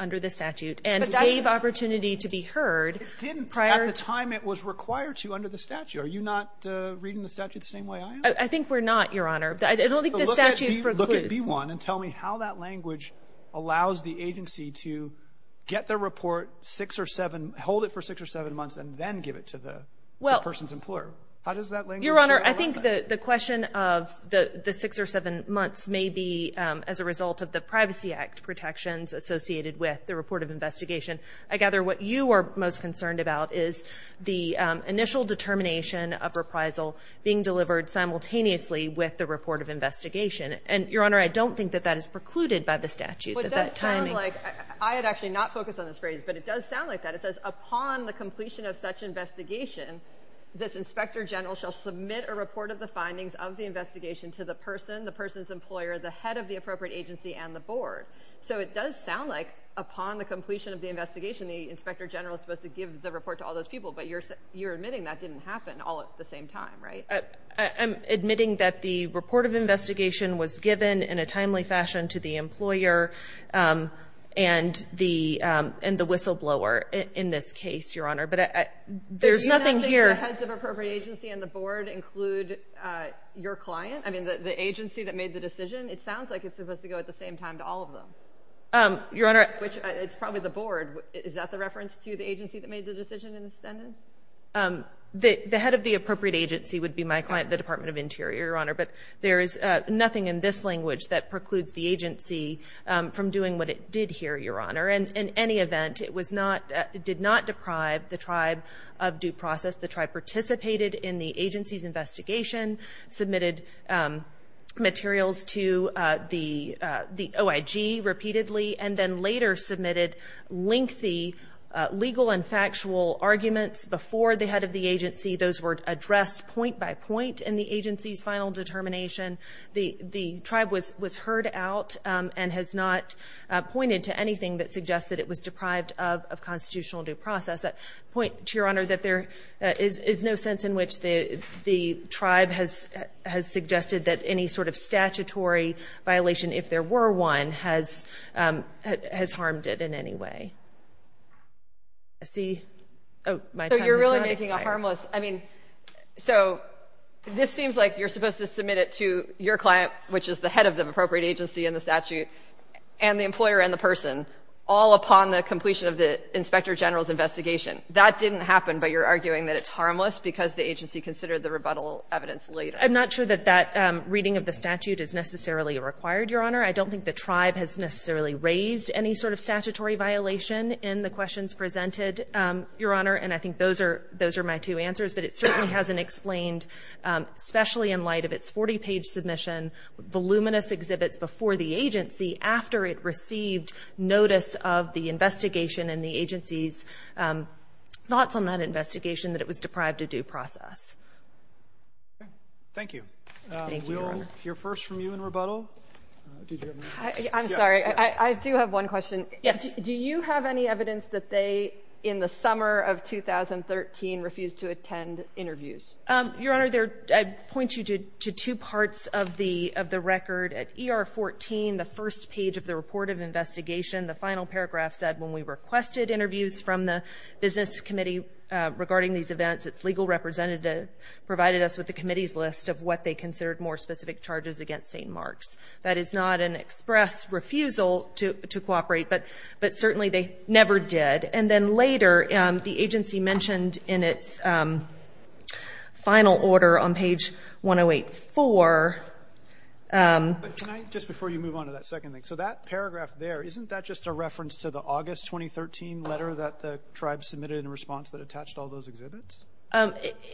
under the statute and gave opportunity to be heard prior ‑‑ It didn't at the time it was required to under the statute. Are you not reading the statute the same way I am? I think we're not, Your Honor. I don't think the statute precludes. Look at B1 and tell me how that language allows the agency to get their report six or seven, hold it for six or seven months, and then give it to the person's employer. How does that language work? Your Honor, I think the question of the six or seven months may be as a result of the Privacy Act protections associated with the report of investigation. I gather what you are most concerned about is the initial determination of reprisal being delivered simultaneously with the report of investigation. Your Honor, I don't think that that is precluded by the statute. It does sound like, I would actually not focus on this phrase, but it does sound like that. It says, upon the completion of such investigation, this inspector general shall submit a report of the findings of the investigation to the person, the person's employer, the head of the appropriate agency, and the board. So it does sound like upon the completion of the investigation, the inspector general is supposed to give the report to all those people, but you're admitting that didn't happen all at the same time, right? I'm admitting that the report of investigation was given in a timely fashion to the employer and the whistleblower in this case, Your Honor. But there's nothing here. Do you know that the heads of appropriate agency and the board include your client? I mean, the agency that made the decision? It sounds like it's supposed to go at the same time to all of them. Your Honor. Which it's probably the board. Is that the reference to the agency that made the decision in the sentence? The head of the appropriate agency would be my client, the Department of Interior, Your Honor. But there is nothing in this language that precludes the agency from doing what it did here, Your Honor. And in any event, it did not deprive the tribe of due process. The tribe participated in the agency's investigation, submitted materials to the OIG repeatedly, and then later submitted lengthy legal and factual arguments before the head of the agency. Those were addressed point by point in the agency's final determination. The tribe was heard out and has not pointed to anything that suggests that it was deprived of constitutional due process. I point to Your Honor that there is no sense in which the tribe has suggested that any sort of statutory violation, if there were one, has harmed it in any way. See? So you're really making it harmless. I mean, so this seems like you're supposed to submit it to your client, which is the head of the appropriate agency in the statute, and the employer and the person, all upon the completion of the Inspector General's investigation. That didn't happen, but you're arguing that it's harmless because the agency considered the rebuttal evidence later. I'm not sure that that reading of the statute is necessarily required, Your Honor. I don't think the tribe has necessarily raised any sort of statutory violation in the questions presented, Your Honor, and I think those are my two answers. But it certainly hasn't explained, especially in light of its 40-page submission, voluminous exhibits before the agency after it received notice of the investigation and the agency's thoughts on that investigation that it was deprived of due process. Okay. Thank you. Thank you, Your Honor. We'll hear first from you in rebuttal. I'm sorry. I do have one question. Yes. Do you have any evidence that they, in the summer of 2013, refused to attend interviews? Your Honor, I point you to two parts of the record. At ER 14, the first page of the report of investigation, the final paragraph said when we requested interviews from the business committee regarding these events, its legal representative provided us with the committee's list of what they considered more specific charges against St. Mark's. That is not an express refusal to cooperate, but certainly they never did. And then later, the agency mentioned in its final order on page 108-4. Just before you move on to that second thing, so that paragraph there, isn't that just a reference to the August 2013 letter that the tribe submitted in response that attached all those exhibits?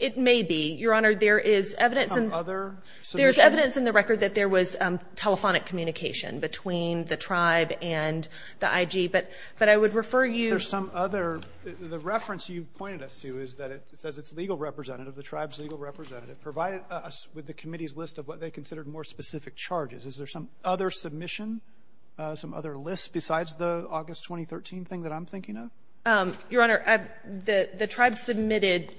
It may be. Your Honor, there is evidence in the record that there was telephonic communication between the tribe and the IG, but I would refer you to some other. The reference you pointed us to is that it says its legal representative, the tribe's legal representative, provided us with the committee's list of what they considered more specific charges. Is there some other submission, some other list besides the August 2013 thing that I'm thinking of? Your Honor, the tribe submitted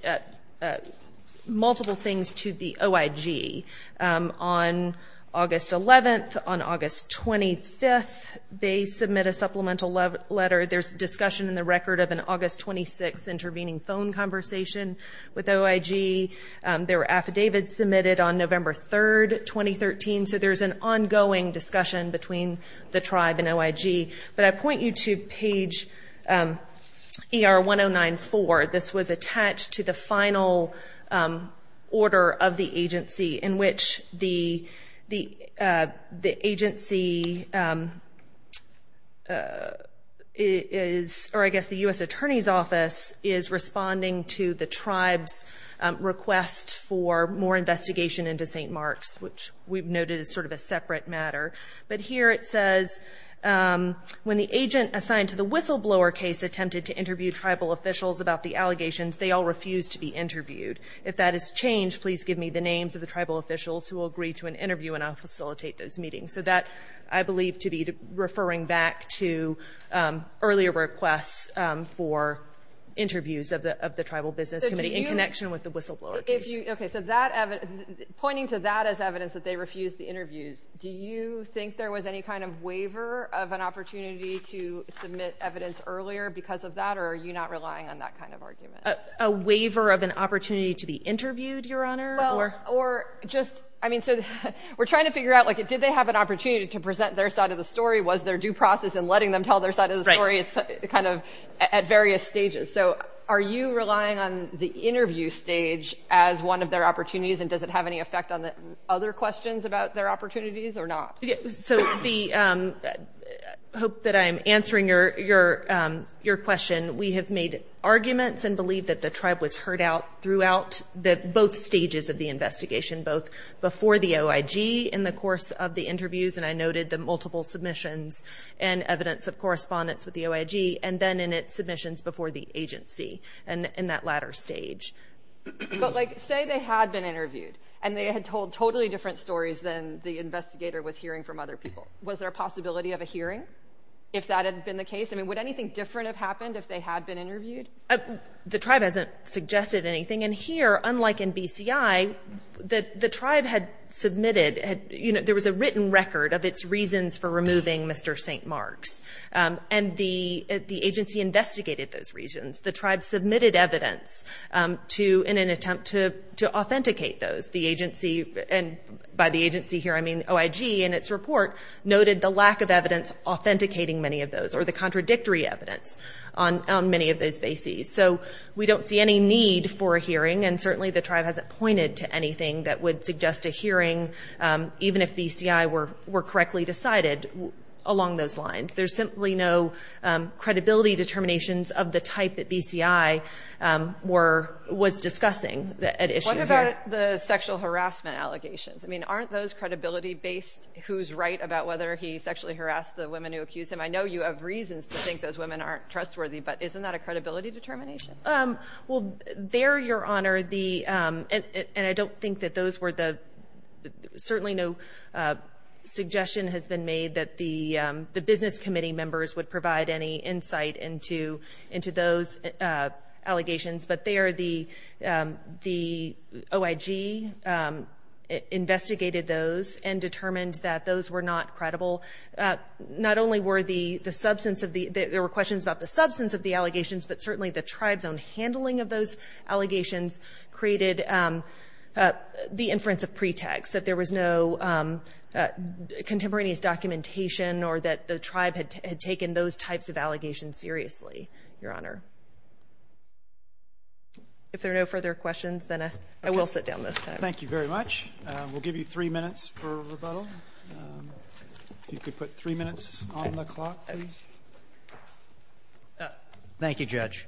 multiple things to the OIG on August 11th. On August 25th, they submit a supplemental letter. There's discussion in the record of an August 26th intervening phone conversation with OIG. There were affidavits submitted on November 3rd, 2013. So there's an ongoing discussion between the tribe and OIG. But I point you to page ER-1094. This was attached to the final order of the agency in which the agency is, or I guess the U.S. Attorney's Office is responding to the tribe's request for more investigation into St. Mark's, which we've noted is sort of a separate matter. But here it says, when the agent assigned to the whistleblower case attempted to interview tribal officials about the allegations, they all refused to be interviewed. If that has changed, please give me the names of the tribal officials who will agree to an interview, and I'll facilitate those meetings. So that, I believe, to be referring back to earlier requests for interviews of the tribal business committee in connection with the whistleblower case. Okay. So pointing to that as evidence that they refused the interviews, do you think there was any kind of waiver of an opportunity to submit evidence earlier because of that, or are you not relying on that kind of argument? A waiver of an opportunity to be interviewed, Your Honor? Well, or just, I mean, so we're trying to figure out, like, did they have an opportunity to present their side of the story? Was there due process in letting them tell their side of the story? Right. It's kind of at various stages. So are you relying on the interview stage as one of their opportunities, and does it have any effect on the other questions about their opportunities or not? So I hope that I'm answering your question. We have made arguments and believe that the tribe was heard out throughout both stages of the investigation, both before the OIG in the course of the interviews, and I noted the multiple submissions and evidence of correspondence with the OIG, and then in its submissions before the agency in that latter stage. But, like, say they had been interviewed, and they had told totally different stories than the investigator was hearing from other people. Was there a possibility of a hearing if that had been the case? I mean, would anything different have happened if they had been interviewed? The tribe hasn't suggested anything, and here, unlike in BCI, the tribe had submitted, you know, there was a written record of its reasons for removing Mr. St. Mark's, and the agency investigated those reasons. The tribe submitted evidence in an attempt to authenticate those. The agency, and by the agency here I mean OIG, in its report noted the lack of evidence authenticating many of those or the contradictory evidence on many of those bases. So we don't see any need for a hearing, and certainly the tribe hasn't pointed to anything that would suggest a hearing, even if BCI were correctly decided along those lines. There's simply no credibility determinations of the type that BCI was discussing at issue here. What about the sexual harassment allegations? I mean, aren't those credibility-based? Who's right about whether he sexually harassed the women who accused him? I know you have reasons to think those women aren't trustworthy, but isn't that a credibility determination? Well, there, Your Honor, the—and I don't think that those were the— certainly no suggestion has been made that the business committee members would provide any insight into those allegations, but there the OIG investigated those and determined that those were not credible. Not only were the substance of the— the tribe's own handling of those allegations created the inference of pretext, that there was no contemporaneous documentation or that the tribe had taken those types of allegations seriously, Your Honor. If there are no further questions, then I will sit down this time. Thank you very much. We'll give you three minutes for rebuttal. If you could put three minutes on the clock, please. Thank you, Judge.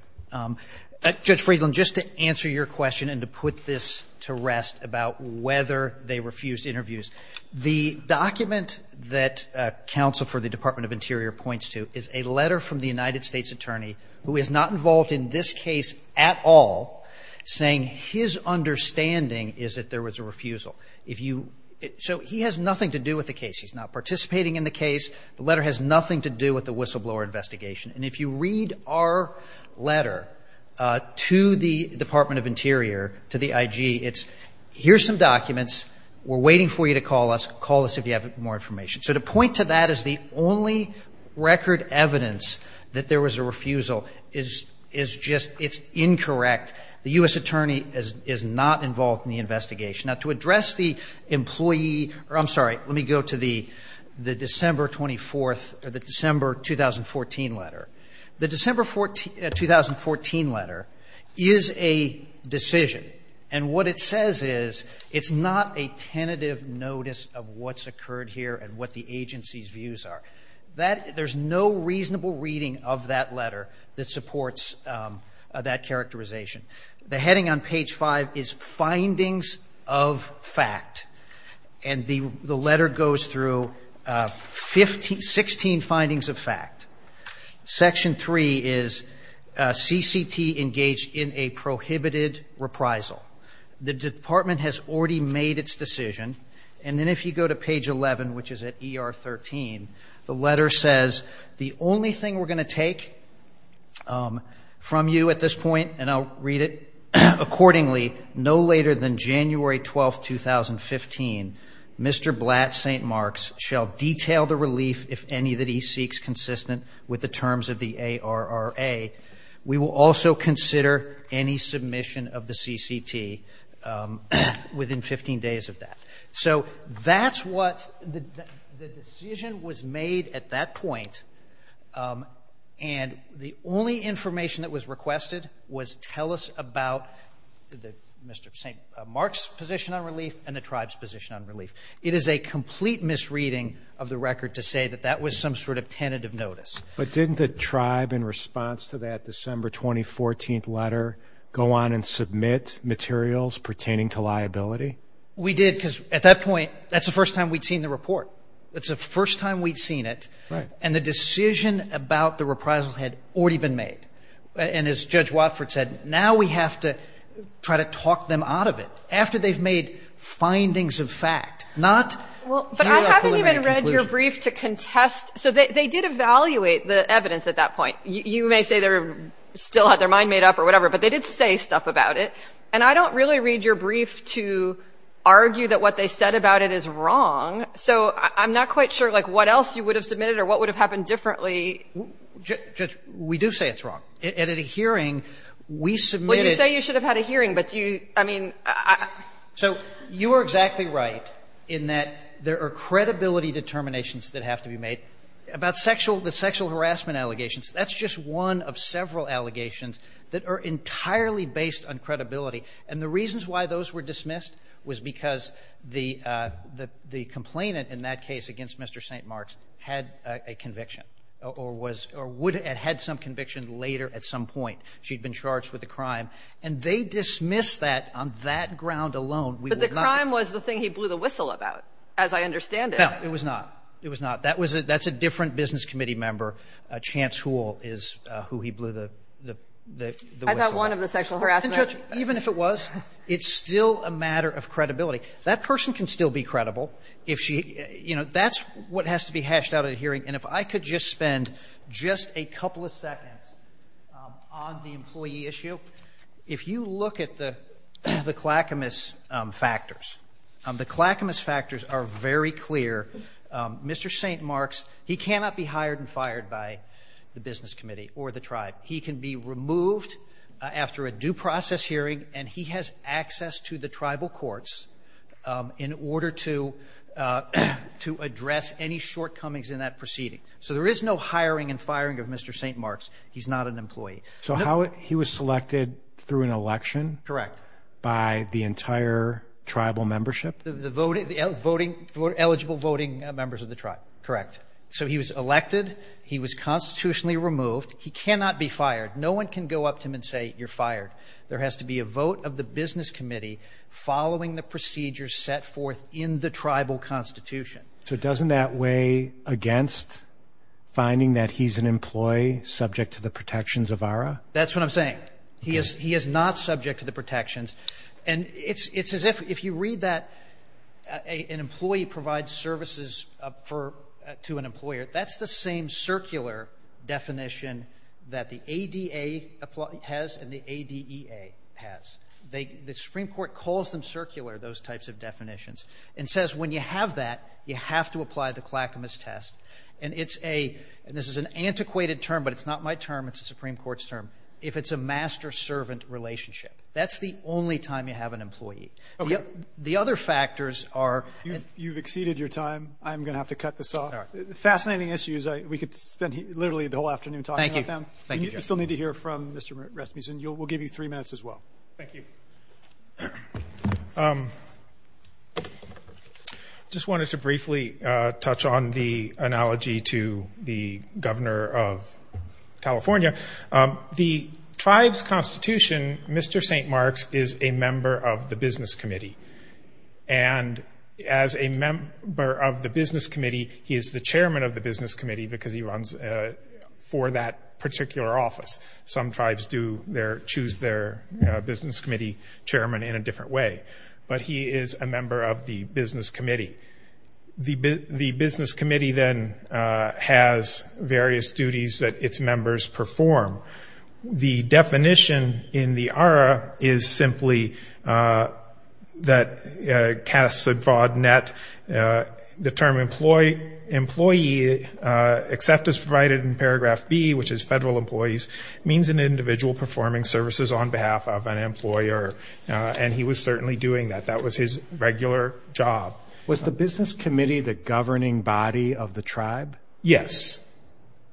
Judge Friedland, just to answer your question and to put this to rest about whether they refused interviews, the document that counsel for the Department of Interior points to is a letter from the United States attorney who is not involved in this case at all, saying his understanding is that there was a refusal. If you—so he has nothing to do with the case. He's not participating in the case. The letter has nothing to do with the whistleblower investigation. And if you read our letter to the Department of Interior, to the IG, it's here's some documents. We're waiting for you to call us. Call us if you have more information. So to point to that as the only record evidence that there was a refusal is just—it's incorrect. The U.S. attorney is not involved in the investigation. Now, to address the employee—I'm sorry. Let me go to the December 24th—the December 2014 letter. The December 2014 letter is a decision. And what it says is it's not a tentative notice of what's occurred here and what the agency's views are. There's no reasonable reading of that letter that supports that characterization. The heading on page 5 is findings of fact. And the letter goes through 16 findings of fact. Section 3 is CCT engaged in a prohibited reprisal. The department has already made its decision. And then if you go to page 11, which is at ER 13, the letter says, the only thing we're going to take from you at this point, and I'll read it accordingly, no later than January 12, 2015, Mr. Blatt, St. Mark's, shall detail the relief if any that he seeks consistent with the terms of the ARRA. We will also consider any submission of the CCT within 15 days of that. So that's what the decision was made at that point. And the only information that was requested was tell us about Mr. St. Mark's position on relief and the tribe's position on relief. It is a complete misreading of the record to say that that was some sort of tentative notice. But didn't the tribe, in response to that December 2014 letter, go on and submit materials pertaining to liability? We did, because at that point, that's the first time we'd seen the report. That's the first time we'd seen it. Right. And the decision about the reprisal had already been made. And as Judge Watford said, now we have to try to talk them out of it, after they've made findings of fact, not a preliminary conclusion. Well, but I haven't even read your brief to contest. So they did evaluate the evidence at that point. You may say they still had their mind made up or whatever, but they did say stuff about it. And I don't really read your brief to argue that what they said about it is wrong. So I'm not quite sure, like, what else you would have submitted or what would have happened differently. Judge, we do say it's wrong. And at a hearing, we submitted – Well, you say you should have had a hearing, but you – I mean – So you are exactly right in that there are credibility determinations that have to be made. About sexual – the sexual harassment allegations, that's just one of several allegations that are entirely based on credibility. And the reasons why those were dismissed was because the complainant in that case against Mr. St. Marks had a conviction or was – or would have had some conviction later at some point. She had been charged with a crime. And they dismissed that on that ground alone. But the crime was the thing he blew the whistle about, as I understand it. No, it was not. It was not. That was a – that's a different business committee member. Chance Houle is who he blew the whistle about. I thought one of the sexual harassment – But then, Judge, even if it was, it's still a matter of credibility. That person can still be credible if she – you know, that's what has to be hashed out at a hearing. And if I could just spend just a couple of seconds on the employee issue, if you look at the Clackamas factors, the Clackamas factors are very clear. Mr. St. Marks, he cannot be hired and fired by the business committee or the tribe. He can be removed after a due process hearing, and he has access to the tribal courts in order to address any shortcomings in that proceeding. So there is no hiring and firing of Mr. St. Marks. He's not an employee. So how – he was selected through an election? Correct. By the entire tribal membership? The voting – the eligible voting members of the tribe. Correct. So he was elected. He was constitutionally removed. He cannot be fired. No one can go up to him and say, you're fired. There has to be a vote of the business committee following the procedures set forth in the tribal constitution. So doesn't that weigh against finding that he's an employee subject to the protections of ARRA? That's what I'm saying. He is not subject to the protections. And it's as if – if you read that an employee provides services for – to an employer, that's the same circular definition that the ADA has and the ADEA has. The Supreme Court calls them circular, those types of definitions, and says when you have that, you have to apply the Clackamas test. And it's a – and this is an antiquated term, but it's not my term. It's the Supreme Court's term. If it's a master-servant relationship. That's the only time you have an employee. Okay. The other factors are – You've exceeded your time. I'm going to have to cut this off. All right. Fascinating issues. We could spend literally the whole afternoon talking about them. Thank you. Thank you, Justice. You still need to hear from Mr. Rasmussen. We'll give you three minutes as well. Thank you. I just wanted to briefly touch on the analogy to the governor of California. The tribe's constitution, Mr. St. Mark's is a member of the business committee. And as a member of the business committee, he is the chairman of the business committee because he runs for that particular office. Some tribes do choose their business committee chairman in a different way. But he is a member of the business committee. The business committee then has various duties that its members perform. The definition in the ARRA is simply that casts a broad net. The term employee, except as provided in paragraph B, which is federal employees, means an individual performing services on behalf of an employer. And he was certainly doing that. That was his regular job. Was the business committee the governing body of the tribe? Yes.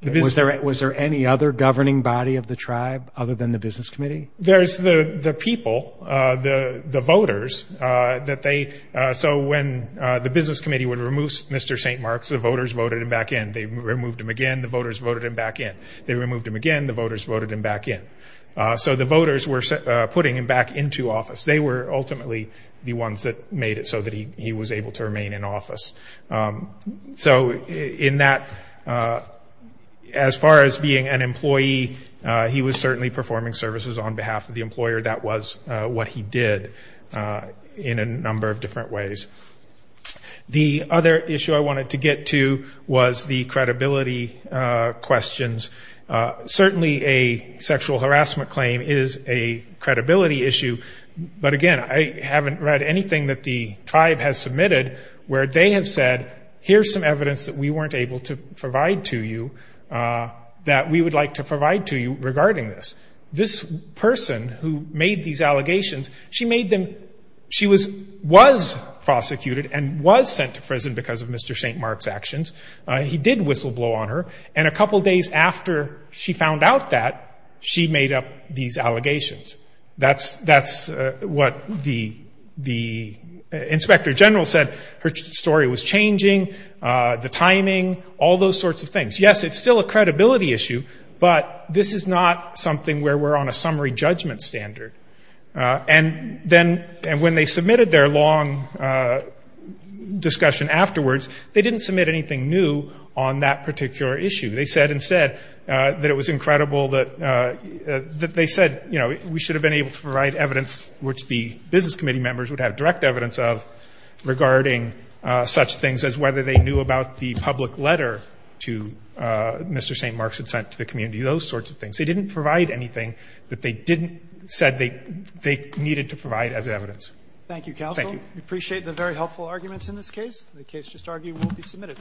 Was there any other governing body of the tribe other than the business committee? There's the people, the voters. So when the business committee would remove Mr. St. Mark's, the voters voted him back in. They removed him again. The voters voted him back in. They removed him again. The voters voted him back in. So the voters were putting him back into office. They were ultimately the ones that made it so that he was able to remain in office. So in that, as far as being an employee, he was certainly performing services on behalf of the employer. That was what he did in a number of different ways. The other issue I wanted to get to was the credibility questions. Certainly a sexual harassment claim is a credibility issue. But, again, I haven't read anything that the tribe has submitted where they have said, here's some evidence that we weren't able to provide to you that we would like to provide to you regarding this. This person who made these allegations, she was prosecuted and was sent to prison because of Mr. St. Mark's actions. He did whistleblow on her. And a couple days after she found out that, she made up these allegations. That's what the inspector general said. Her story was changing, the timing, all those sorts of things. Yes, it's still a credibility issue, but this is not something where we're on a summary judgment standard. And then when they submitted their long discussion afterwards, they didn't submit anything new on that particular issue. They said instead that it was incredible that they said, you know, we should have been able to provide evidence which the business committee members would have direct evidence of regarding such things as whether they knew about the public letter to Mr. St. Mark's that was sent to the community, those sorts of things. They didn't provide anything that they didn't say they needed to provide as evidence. Thank you, counsel. Thank you. We appreciate the very helpful arguments in this case. The case just argued will be submitted.